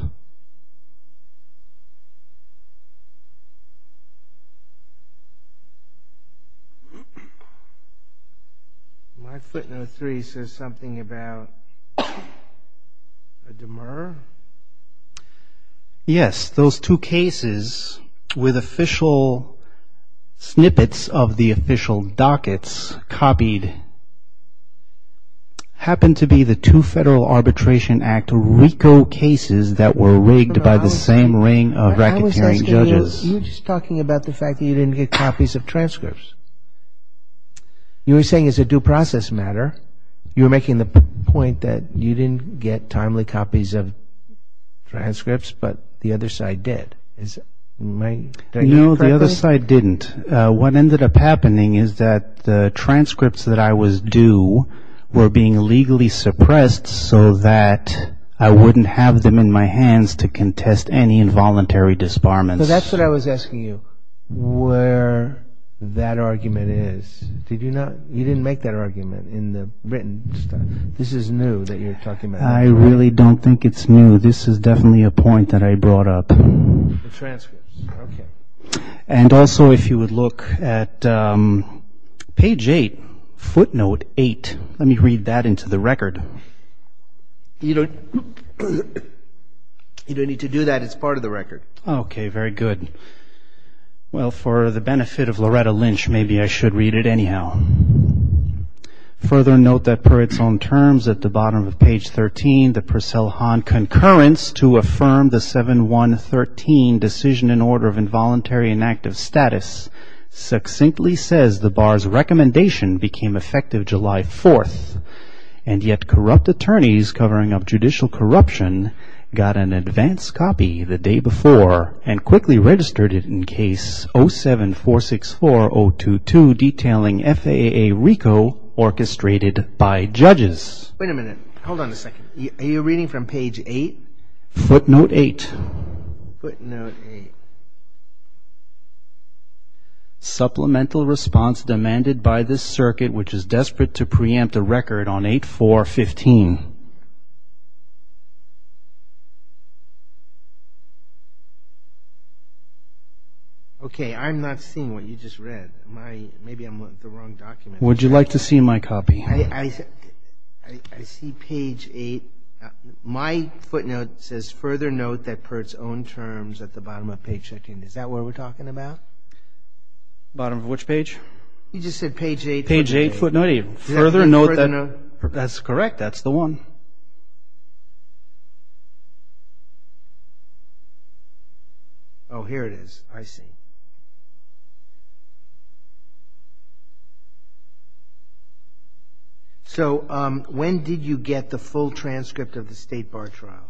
My footnote 3 says something about a demur. Yes, those two cases with official snippets of the official dockets copied happen to be the two Federal Arbitration Act RICO cases that were rigged by the same ring of racketeering judges. You're just talking about the fact that you didn't get copies of transcripts. You were saying it's a due process matter. You didn't get copies of transcripts, but the other side did. No, the other side didn't. What ended up happening is that the transcripts that I was due were being legally suppressed so that I wouldn't have them in my hands to contest any involuntary disbarments. So that's what I was asking you, where that argument is. You didn't make that argument in the written stuff. This is new that you're talking about. I really don't think it's new. This is definitely a point that I brought up. And also if you would look at page 8, footnote 8. Let me read that into the record. You don't need to do that. It's part of the record. Okay, very good. Well, for the benefit of Loretta Lynch, maybe I should read it anyhow. Further note that Peritone terms at the bottom of page 13, the Purcell-Hahn concurrence to affirm the 7-1-13 decision in order of involuntary inactive status succinctly says the bar's recommendation became effective July 4th and yet corrupt attorneys covering up judicial corruption got an advance copy the day before and quickly registered it in case 07464022 detailing FAA RICO orchestrated by judges. Wait a minute. Hold on a second. Are you reading from page 8? Footnote 8. Supplemental response demanded by this circuit which is desperate to preempt the record on 8415. Okay, I'm not seeing what you just read. Maybe I'm looking at the wrong document. Would you like to see my copy? I see page 8. My footnote says further note that Peritone terms at the bottom of page 13. Is that what we're talking about? Bottom of which page? You just said page 8. Page 8. That's correct. That's the one. Okay. Oh, here it is. I see. So when did you get the full transcript of the state bar trial,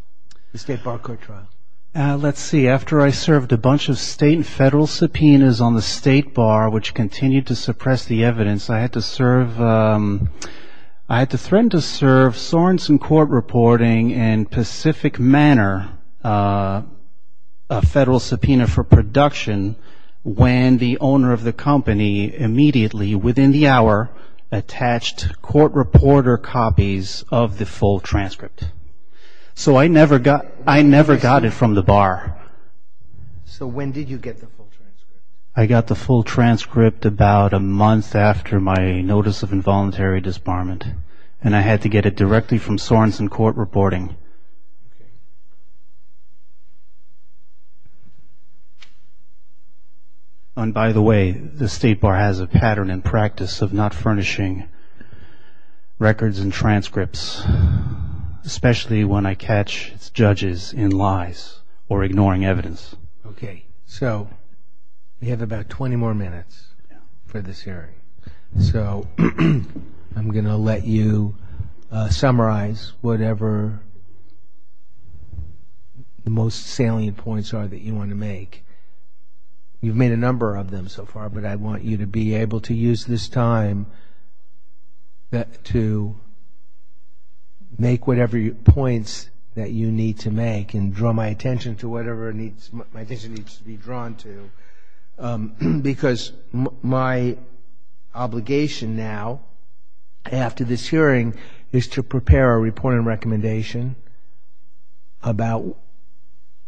the state bar court trial? Let's see. After I served a bunch of state and federal subpoenas on the state bar which continued to suppress the evidence, I had to serve I had to threaten to serve Sorenson Court Reporting in Pacific Manor, a federal subpoena for production when the owner of the company immediately within the hour attached court reporter copies of the full transcript. So I never got it from the bar. So when did you get the full transcript? I got the full transcript about a month after my notice of involuntary disbarment and I had to get it directly from Sorenson Court Reporting. And by the way, the state bar has a pattern and practice of not furnishing judges in lies or ignoring evidence. Okay. So we have about 20 more minutes for this hearing. So I'm going to let you summarize whatever the most salient points are that you want to make. You've made a number of them so far, but I want you to be able to use this time to make whatever points that you need to make and draw my attention to whatever my attention needs to be drawn to because my obligation now after this hearing is to prepare a report and recommendation about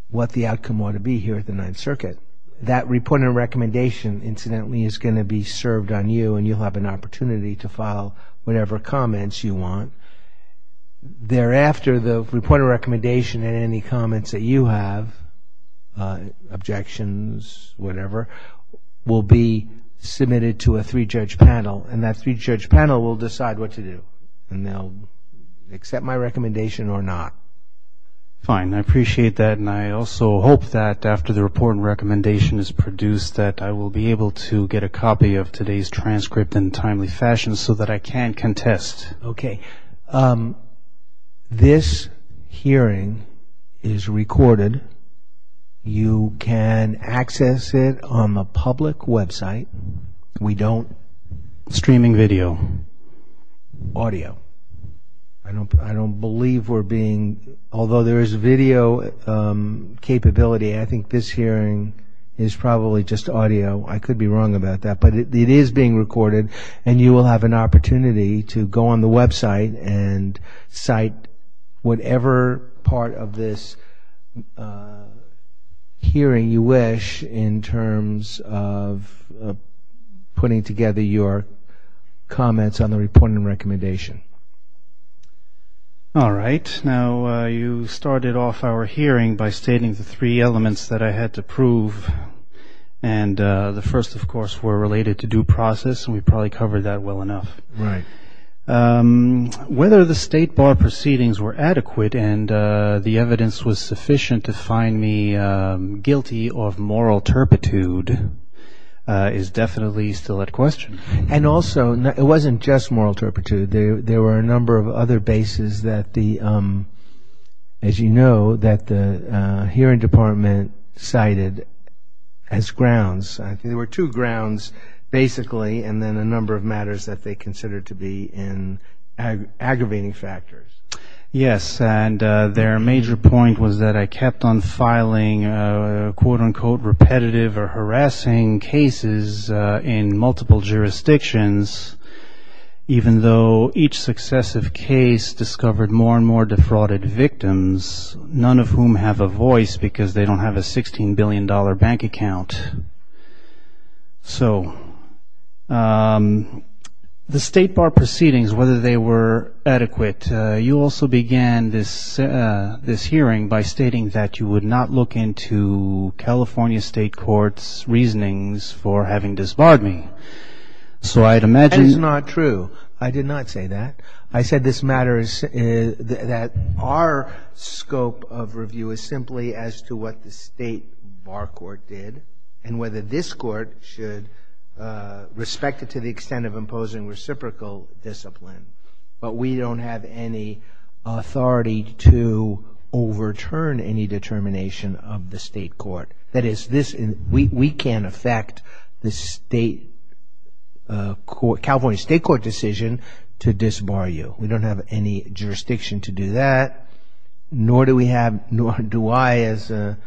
what the outcome ought to be here at the Ninth Circuit. That report and recommendation, incidentally, is going to be served on you and you'll have an opportunity to file whatever comments you want. Thereafter, the report and recommendation and any comments that you have, objections, whatever, will be submitted to a three-judge panel and that three-judge panel will decide what to do. Now, accept my recommendation or not? Fine. I appreciate that and I also hope that after the report and recommendation is produced that I will be able to get a copy of today's transcript in timely fashion so that I can contest. Okay. This hearing is recorded. You can access it on the public website. We don't... Audio. I don't believe we're being... Although there is video capability, I think this hearing is probably just audio. I could be wrong about that, but it is being recorded and you will have an opportunity to go on the website and cite whatever part of this hearing you wish in terms of putting together your comments on the report and recommendation. All right. Now, you started off our hearing by stating the three elements that I had to prove and the first, of course, were related to due process and we probably covered that well enough. Whether the state bar proceedings were adequate and the evidence was sufficient to find me guilty of moral turpitude is definitely still at question. And also, it wasn't just moral turpitude. There were a number of other bases that the, as you know, that the hearing department cited as grounds. There were two grounds, basically, and then the number of matters that they considered to be in aggravating factors. Yes, and their major point was that I kept on filing quote-unquote repetitive or harassing cases in multiple jurisdictions even though each successive case discovered more and more So, the state bar proceedings, whether they were adequate, you also began this hearing by stating that you would not look into California state courts' reasonings for having disbarred me. That is not true. I did not say that. I said this matters that our scope of review is simply as to what the state bar court did and whether this court should respect it to the extent of imposing reciprocal discipline. But we don't have any authority to overturn any determination of the state court. That is, we can't affect the state California state court decision to disbar you. We don't have any jurisdiction to do that, nor do we have, nor do I as a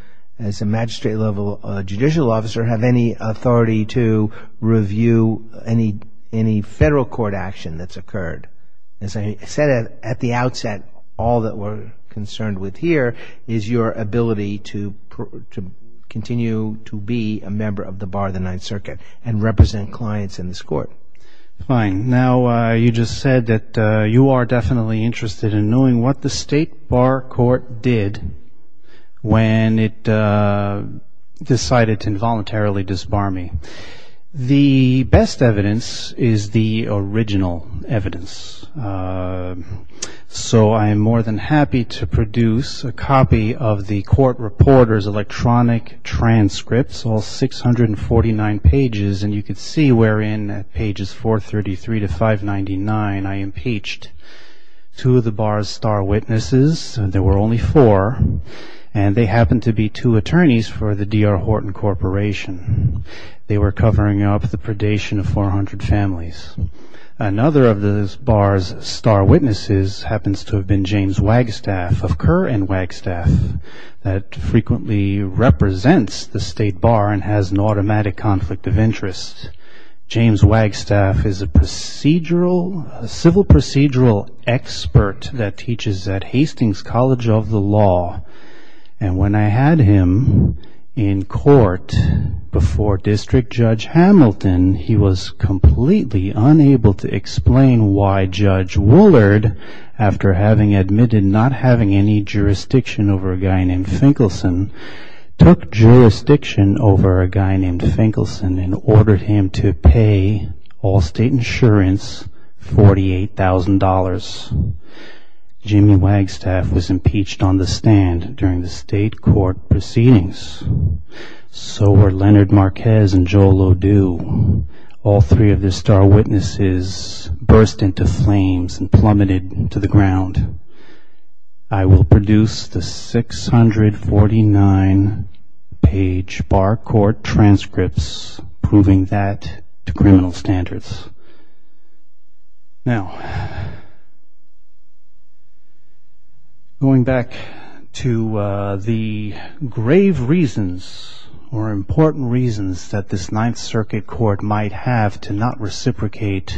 magistrate level judicial officer have any authority to review any federal court action that's occurred. As I said at the outset, all that we're concerned with here is your ability to continue to be a member of the bar of the Ninth Circuit and represent clients in this court. Fine. Now, you just said that you are definitely interested in knowing what the state bar court did when it decided to involuntarily disbar me. The best evidence is the original evidence. So, I am more than happy to produce a copy of the court reporter's electronic transcripts, all 649 pages, and you can see we're in at pages 433 to 599. I impeached two of the bar's star witnesses. There were only four, and they happened to be two attorneys for the D.R. Horton Corporation. They were covering up the predation of 400 families. Another of the bar's star witnesses happens to have been James Wagstaff of Kerr and Wagstaff that frequently represents the state bar and has an automatic conflict of interest. James Wagstaff is a civil procedural expert that teaches at Hastings College of the Law, and when I had him in court, he was unable to explain why Judge Woolard, after having admitted not having any jurisdiction over a guy named Finkelson, took jurisdiction over a guy named Finkelson and ordered him to pay all state insurance $48,000. Jimmy Wagstaff was impeached on the stand during the state court proceedings. So were Leonard Marquez and Joe Lodeau. All three of the star witnesses burst into flames and plummeted to the ground. I will produce the 649 page bar court transcripts proving that to criminal standards. Now, going back to the grave reasons or important reasons that this Ninth Circuit Court might have to not reciprocate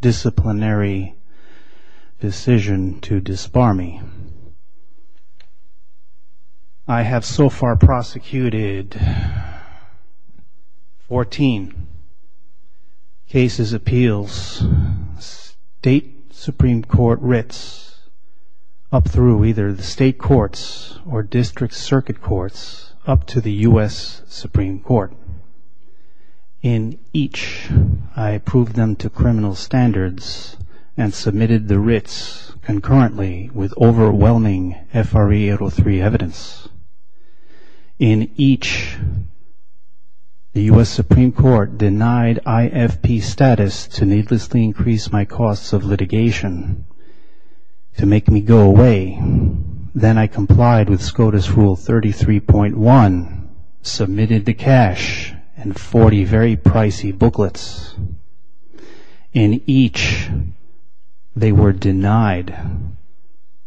disciplinary decision to disbar me. I have so far prosecuted 14 cases, appeals, state Supreme Court writs up through either the state courts or district circuit courts up to the U.S. Supreme Court. In each, I approved them to criminal standards and submitted the writs concurrently with overwhelming FRA 803 evidence. In each, the U.S. Supreme Court denied IFP status to needlessly increase my costs of litigation to make me go away. Then I complied with SCOTUS Rule 33.1, submitted the cash and 40 very pricey booklets. In each, they were denied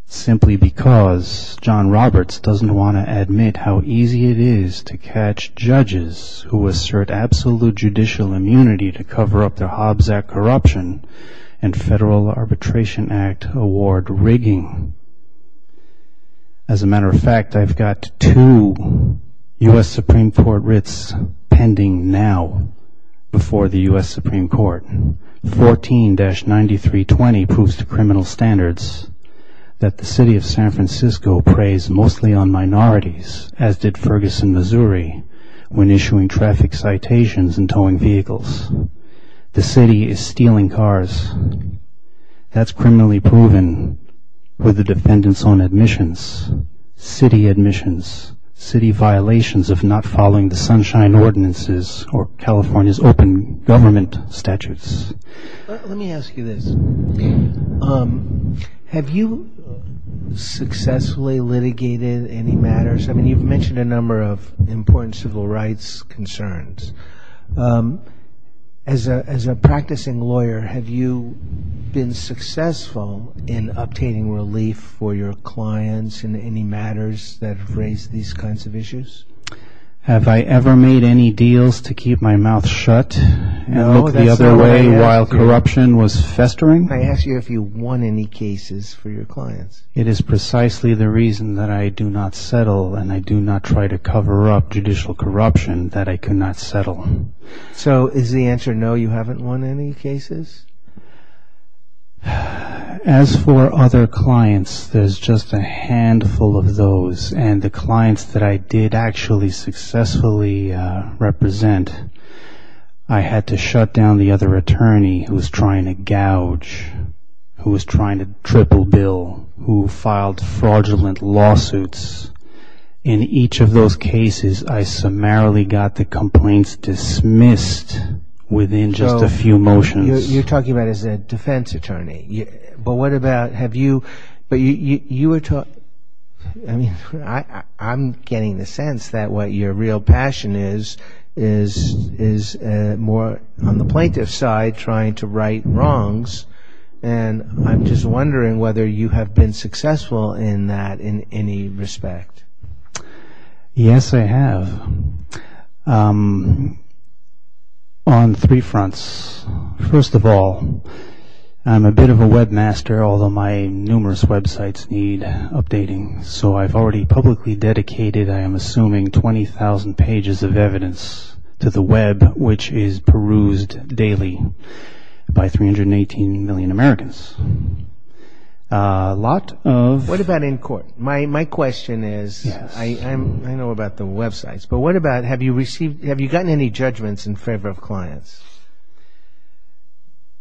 simply because John Roberts doesn't want to admit how easy it is to catch judges who assert absolute judicial immunity to cover up their Hobbs Act corruption and Federal Arbitration Act award rigging. As a matter of fact, I've got two U.S. Supreme Court writs pending now before the U.S. Supreme Court. 14-9320 proves to criminal standards that the city of San Francisco preys mostly on minorities, as did Ferguson, Missouri, when issuing traffic citations and towing vehicles. The city is stealing cars. That's criminally proven with the sunshine ordinances or California's open government statutes. Let me ask you this. Have you successfully litigated any matters? I mean, you've mentioned a number of important civil rights concerns. As a practicing lawyer, have you been successful in obtaining relief for your clients in any matters that raise these kinds of issues? Have I ever made any deals to keep my mouth shut the other way while corruption was festering? I ask you if you won any cases for your clients. It is precisely the reason that I do not settle and I do not try to cover up judicial corruption that I cannot settle. So is the answer no, you haven't won any cases? As for other clients, there's just a handful of those. And the clients that I did actually successfully represent, I had to shut down the other attorney who was trying to gouge, who was trying to cripple Bill, who filed fraudulent lawsuits. In each of those cases, I summarily got the complaints dismissed within just a few motions. You're talking about as a defense attorney. But what about, have you, I mean, I'm getting the sense that what your real passion is, is more on the plaintiff's side trying to right wrongs. And I'm just wondering whether you have been successful in that in any respect. Yes, I have on three fronts. First of all, I'm a bit of a webmaster, although my numerous websites need updating. So I've already publicly dedicated, I am assuming, 20,000 pages of evidence to the web, which is perused daily by 318 million Americans. What about in court? My question is, I know about the websites, but what about, have you received, have you gotten any judgments in favor of clients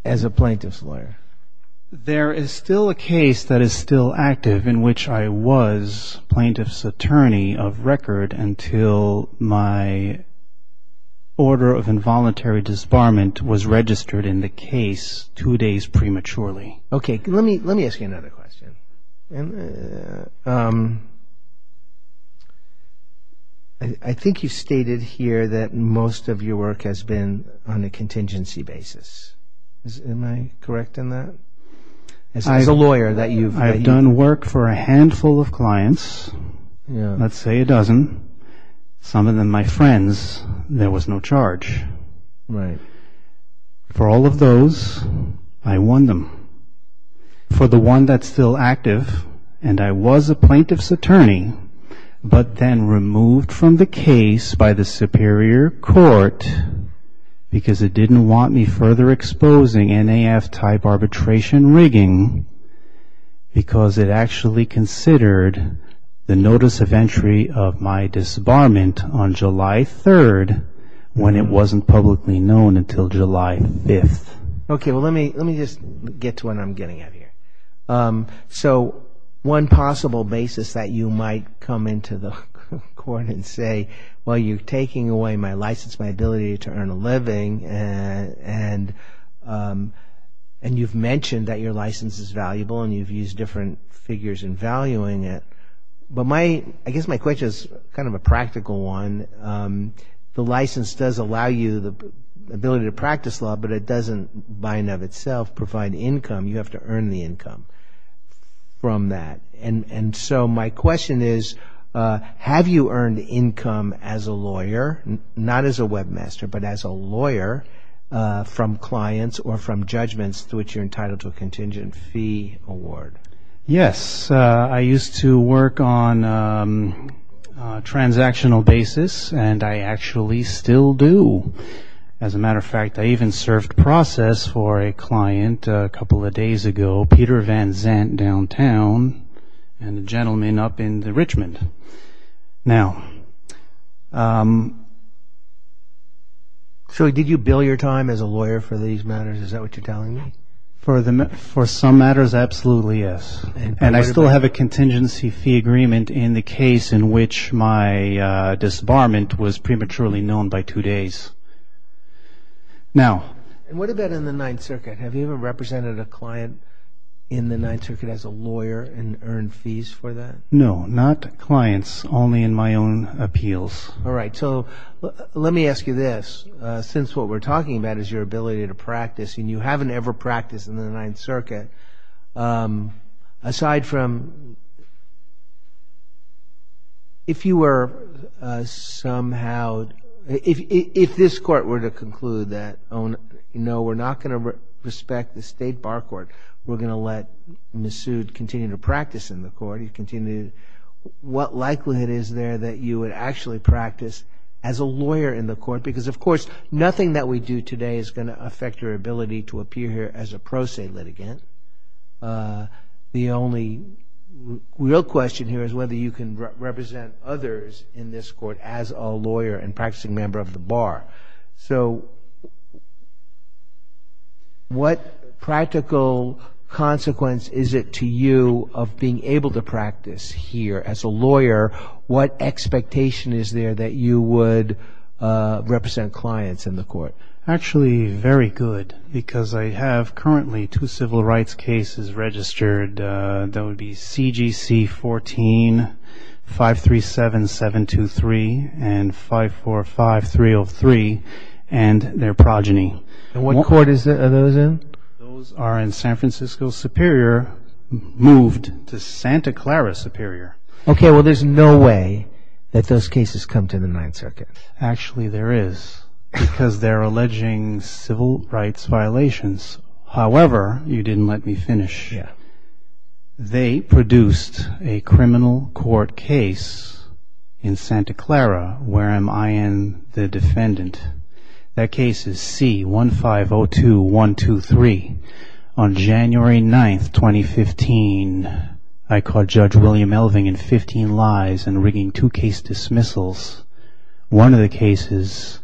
as a plaintiff's lawyer? There is still a case that is still active in which I was plaintiff's attorney of record until my order of involuntary disbarment was registered in the case two days prematurely. Okay, let me ask you another question. I think you stated here that most of your work has been on a contingency basis. Am I correct in that? As a lawyer that you've been. I've done work for a handful of clients. Let's say a dozen. Some of them my friends. There was no charge. For all of those, I won them. For the one that's still active, and I was a plaintiff's attorney, but then removed from the case by the superior court because it didn't want me further exposing NAF type arbitration rigging because it actually considered the notice of entry of my disbarment on July 3rd when it wasn't publicly known until July 5th. Okay, let me just get to what I'm getting at here. So one possible basis that you might come into the court and say, well, you've taken away my license, my ability to earn a living and you've mentioned that your license is valuable and you've used different figures in valuing it. But I guess my question is kind of a practical one. The license does allow you the ability to practice law, but it doesn't by and of itself provide income. You have to earn the income from that. And so my question is, have you earned income as a lawyer, not as a webmaster, but as a lawyer from clients or from judgments to which you're entitled to a contingent fee award? Yes, I used to work on transactional basis and I actually still do. As a matter of fact, I even served process for a client a couple of days ago, Peter Van Zandt downtown and the gentleman up in the Richmond. Now, so did you bill your time as a lawyer for these matters? Is that what you're telling me? For some matters? Absolutely. Yes. And I still have a contingency fee agreement in the case in which my disbarment was prematurely known by two days. Now, what about in the Ninth Circuit? Have you ever represented a client in the Ninth Circuit as a lawyer and earned fees for that? No, not clients, only in my own appeals. All right. So let me ask you this. Since what we're talking about is your ability to practice and you haven't ever practiced in the Ninth Circuit aside from if you were somehow, if this court were to conclude that no, we're not going to respect the state bar court, we're going to let the suit continue to practice in the court. What likelihood is there that you would actually practice as a lawyer in the court? Because of course, nothing that we do today is going to affect your ability to appear here as a pro se litigant. The only real question here is whether you can represent others in this court as a lawyer and practicing member of the bar. So what practical consequence is it to you of being able to practice here as a lawyer? What expectation is there that you would represent clients in the court? Actually, very good, because I have currently two civil rights cases registered. That would be C.G.C. 14-537-723 and 545-303 and their progeny. And what court are those in? Those are in San Francisco Superior moved to Santa Clara Superior. Okay, well there's no way that those cases come to the Ninth Circuit. Actually, there is, because they're alleging civil rights violations. However, you didn't let me finish yet. They produced a criminal court case in Santa Clara where I am the defendant. That case is C.1502-123. On January 9th, 2015, I caught Judge William Elving in 15 lies and rigging two case dismissals. One of the cases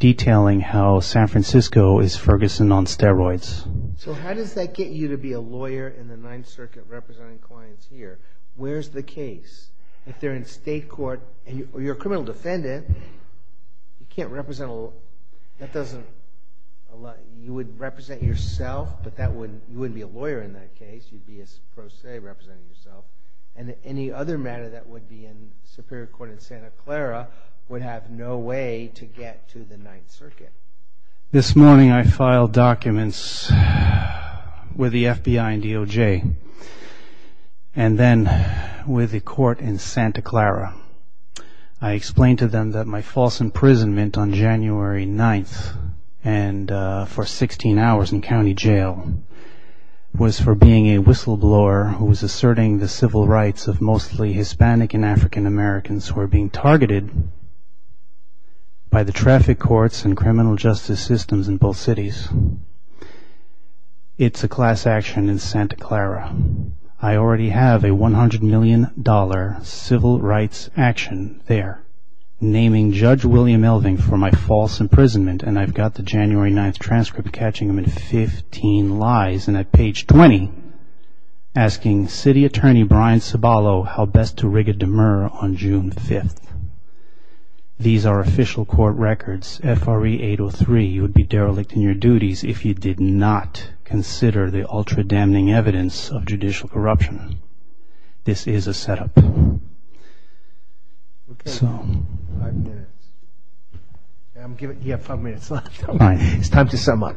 detailing how San Francisco is Ferguson on steroids. So how does that get you to be a lawyer in the Ninth Circuit representing clients here? Where's the case? If they're in state court and you're a criminal defendant, you can't represent all, that doesn't, you would represent yourself, but that would, you would be a lawyer in that case. You'd be a pro se representing yourself. And any other matter that would be in Superior Court in Santa Clara would have no way to get to the Ninth Circuit. This morning I filed documents with the FBI and DOJ and then with the court in Santa Clara. I explained to them that my false imprisonment on January 9th and for 16 hours in county jail was for being a whistleblower who was asserting the civil rights of mostly Hispanic and African Americans who were being targeted by the traffic courts and criminal justice systems in both cities. It's a class action in Santa Clara. I already have a $100 million civil rights action there naming Judge William Elving for my false imprisonment and I've got the January 9th transcript catching him in 15 lies and at page 20 asking city attorney Brian Ciballo how best to rig a demur on June 5th. These are official court records. FRE 803, you would be derelict in your duties if you did not consider the ultra damning evidence of judicial corruption. This is a setup. You have five minutes. It's time to sum up.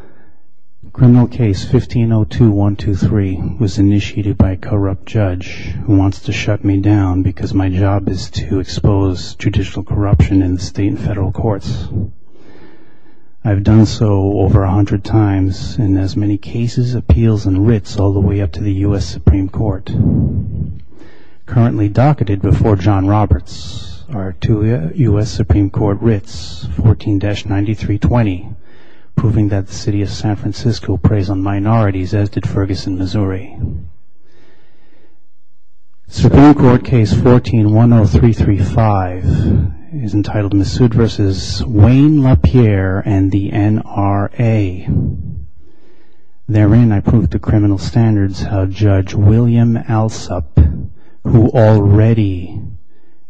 Criminal case 1502123 was initiated by a corrupt judge who wants to shut me down because my job is to expose judicial corruption in state and federal courts. I've done so over 100 times in as many cases, appeals and writs all the way up to the U.S. Supreme Court. Currently docketed before John Roberts are two U.S. Supreme Court writs 14-9320 proving that the city of San Francisco preys on minorities as did Ferguson, Missouri. Supreme Court case 1410335 is entitled Massoud vs. Wayne LaPierre and the NRA. Therein I prove the criminal standards of Judge William Alsup who already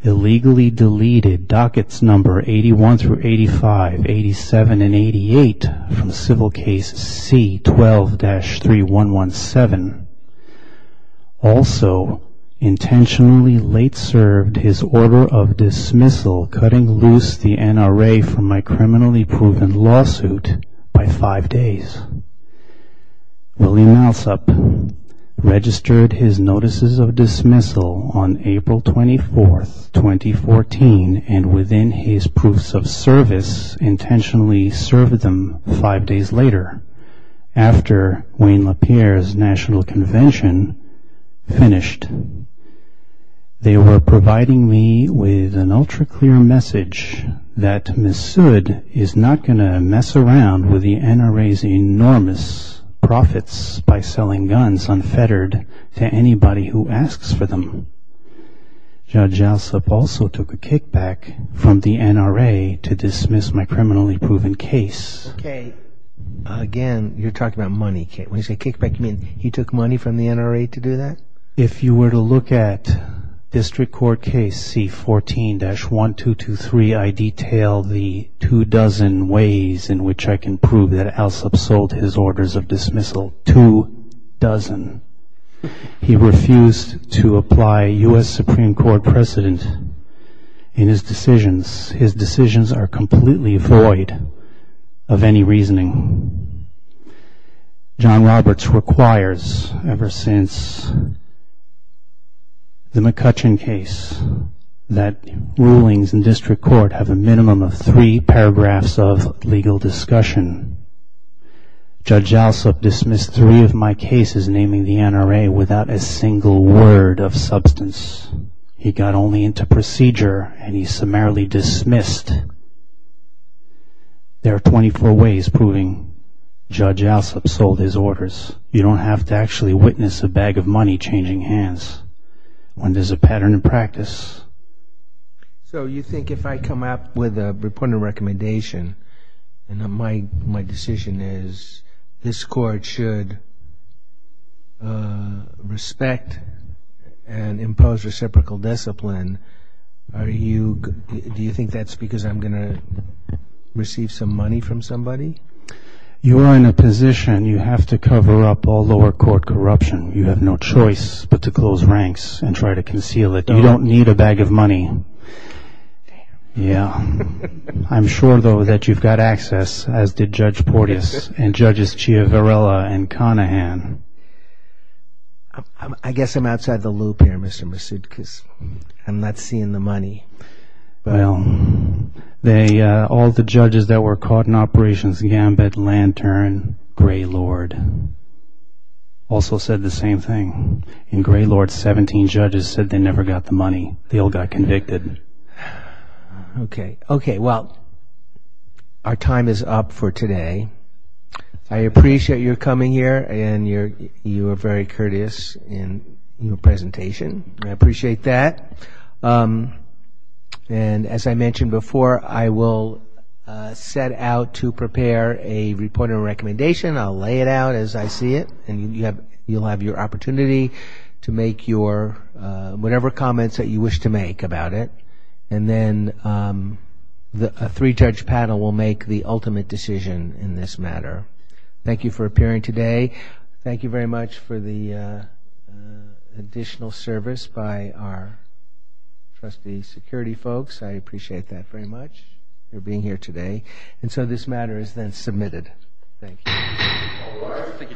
illegally deleted dockets number 81-85, 87 and 88 from civil case C12-3117. Also intentionally late served his order of dismissal cutting loose the NRA from my criminally proven lawsuit by five days. William Alsup registered his notices of dismissal on April 24, 2014 and within his proofs of service intentionally served them five days later after Wayne LaPierre's national convention finished. They were providing me with an ultra clear message that Massoud is not going to mess around with the NRA's enormous profits by selling guns unfettered to anybody who asks for them. Judge Alsup also took a kickback from the NRA to do that? If you were to look at district court case C14-1223 I detail the two dozen ways in which I can prove that Alsup sold his orders of dismissal. Two dozen. He refused to apply U.S. Supreme Court precedent in his decisions. His decisions are completely void of any reasoning. John Roberts requires ever since the McCutcheon case that rulings in district court have a minimum of three paragraphs of legal discussion. Judge Alsup dismissed three of my cases naming the NRA without a single word of substance. He got only into procedure and he summarily dismissed. There are 24 ways proving Judge Alsup sold his orders. You don't have to actually witness a bag of money changing hands when there's a pattern in practice. So you think if I come up with a reporting recommendation and my decision is this court should respect and impose reciprocal discipline, do you think that's because I'm going to receive some money from somebody? You are in a position you have to cover up all lower court corruption. You have no choice but to close ranks and try to conceal it. You don't need a bag of money. Yeah. I'm sure though that you've got access as did Judge Porteous and Judges Chiaverella and Conahan. I guess I'm outside the loop here, Mr. Masud, because I'm not seeing the money. Well, all the judges that were caught in operations, Gambit, Lantern, Gray Lord, also said the same thing. And Gray Lord's 17 judges said they never got the money. They all got convicted. Okay. Well, our time is up for today. I appreciate your coming here and you were very courteous in your presentation. I appreciate that. And as I mentioned before, I will set out to prepare a report and recommendation. I'll lay it out as I see it and you'll have your opportunity to make whatever comments that you wish to make about it. And then a three-judge panel will make the ultimate decision in this matter. Thank you for appearing today. Thank you very much for the additional service by our trustee security folks. I appreciate that very much for being here today. And so this matter is then submitted. Thank you.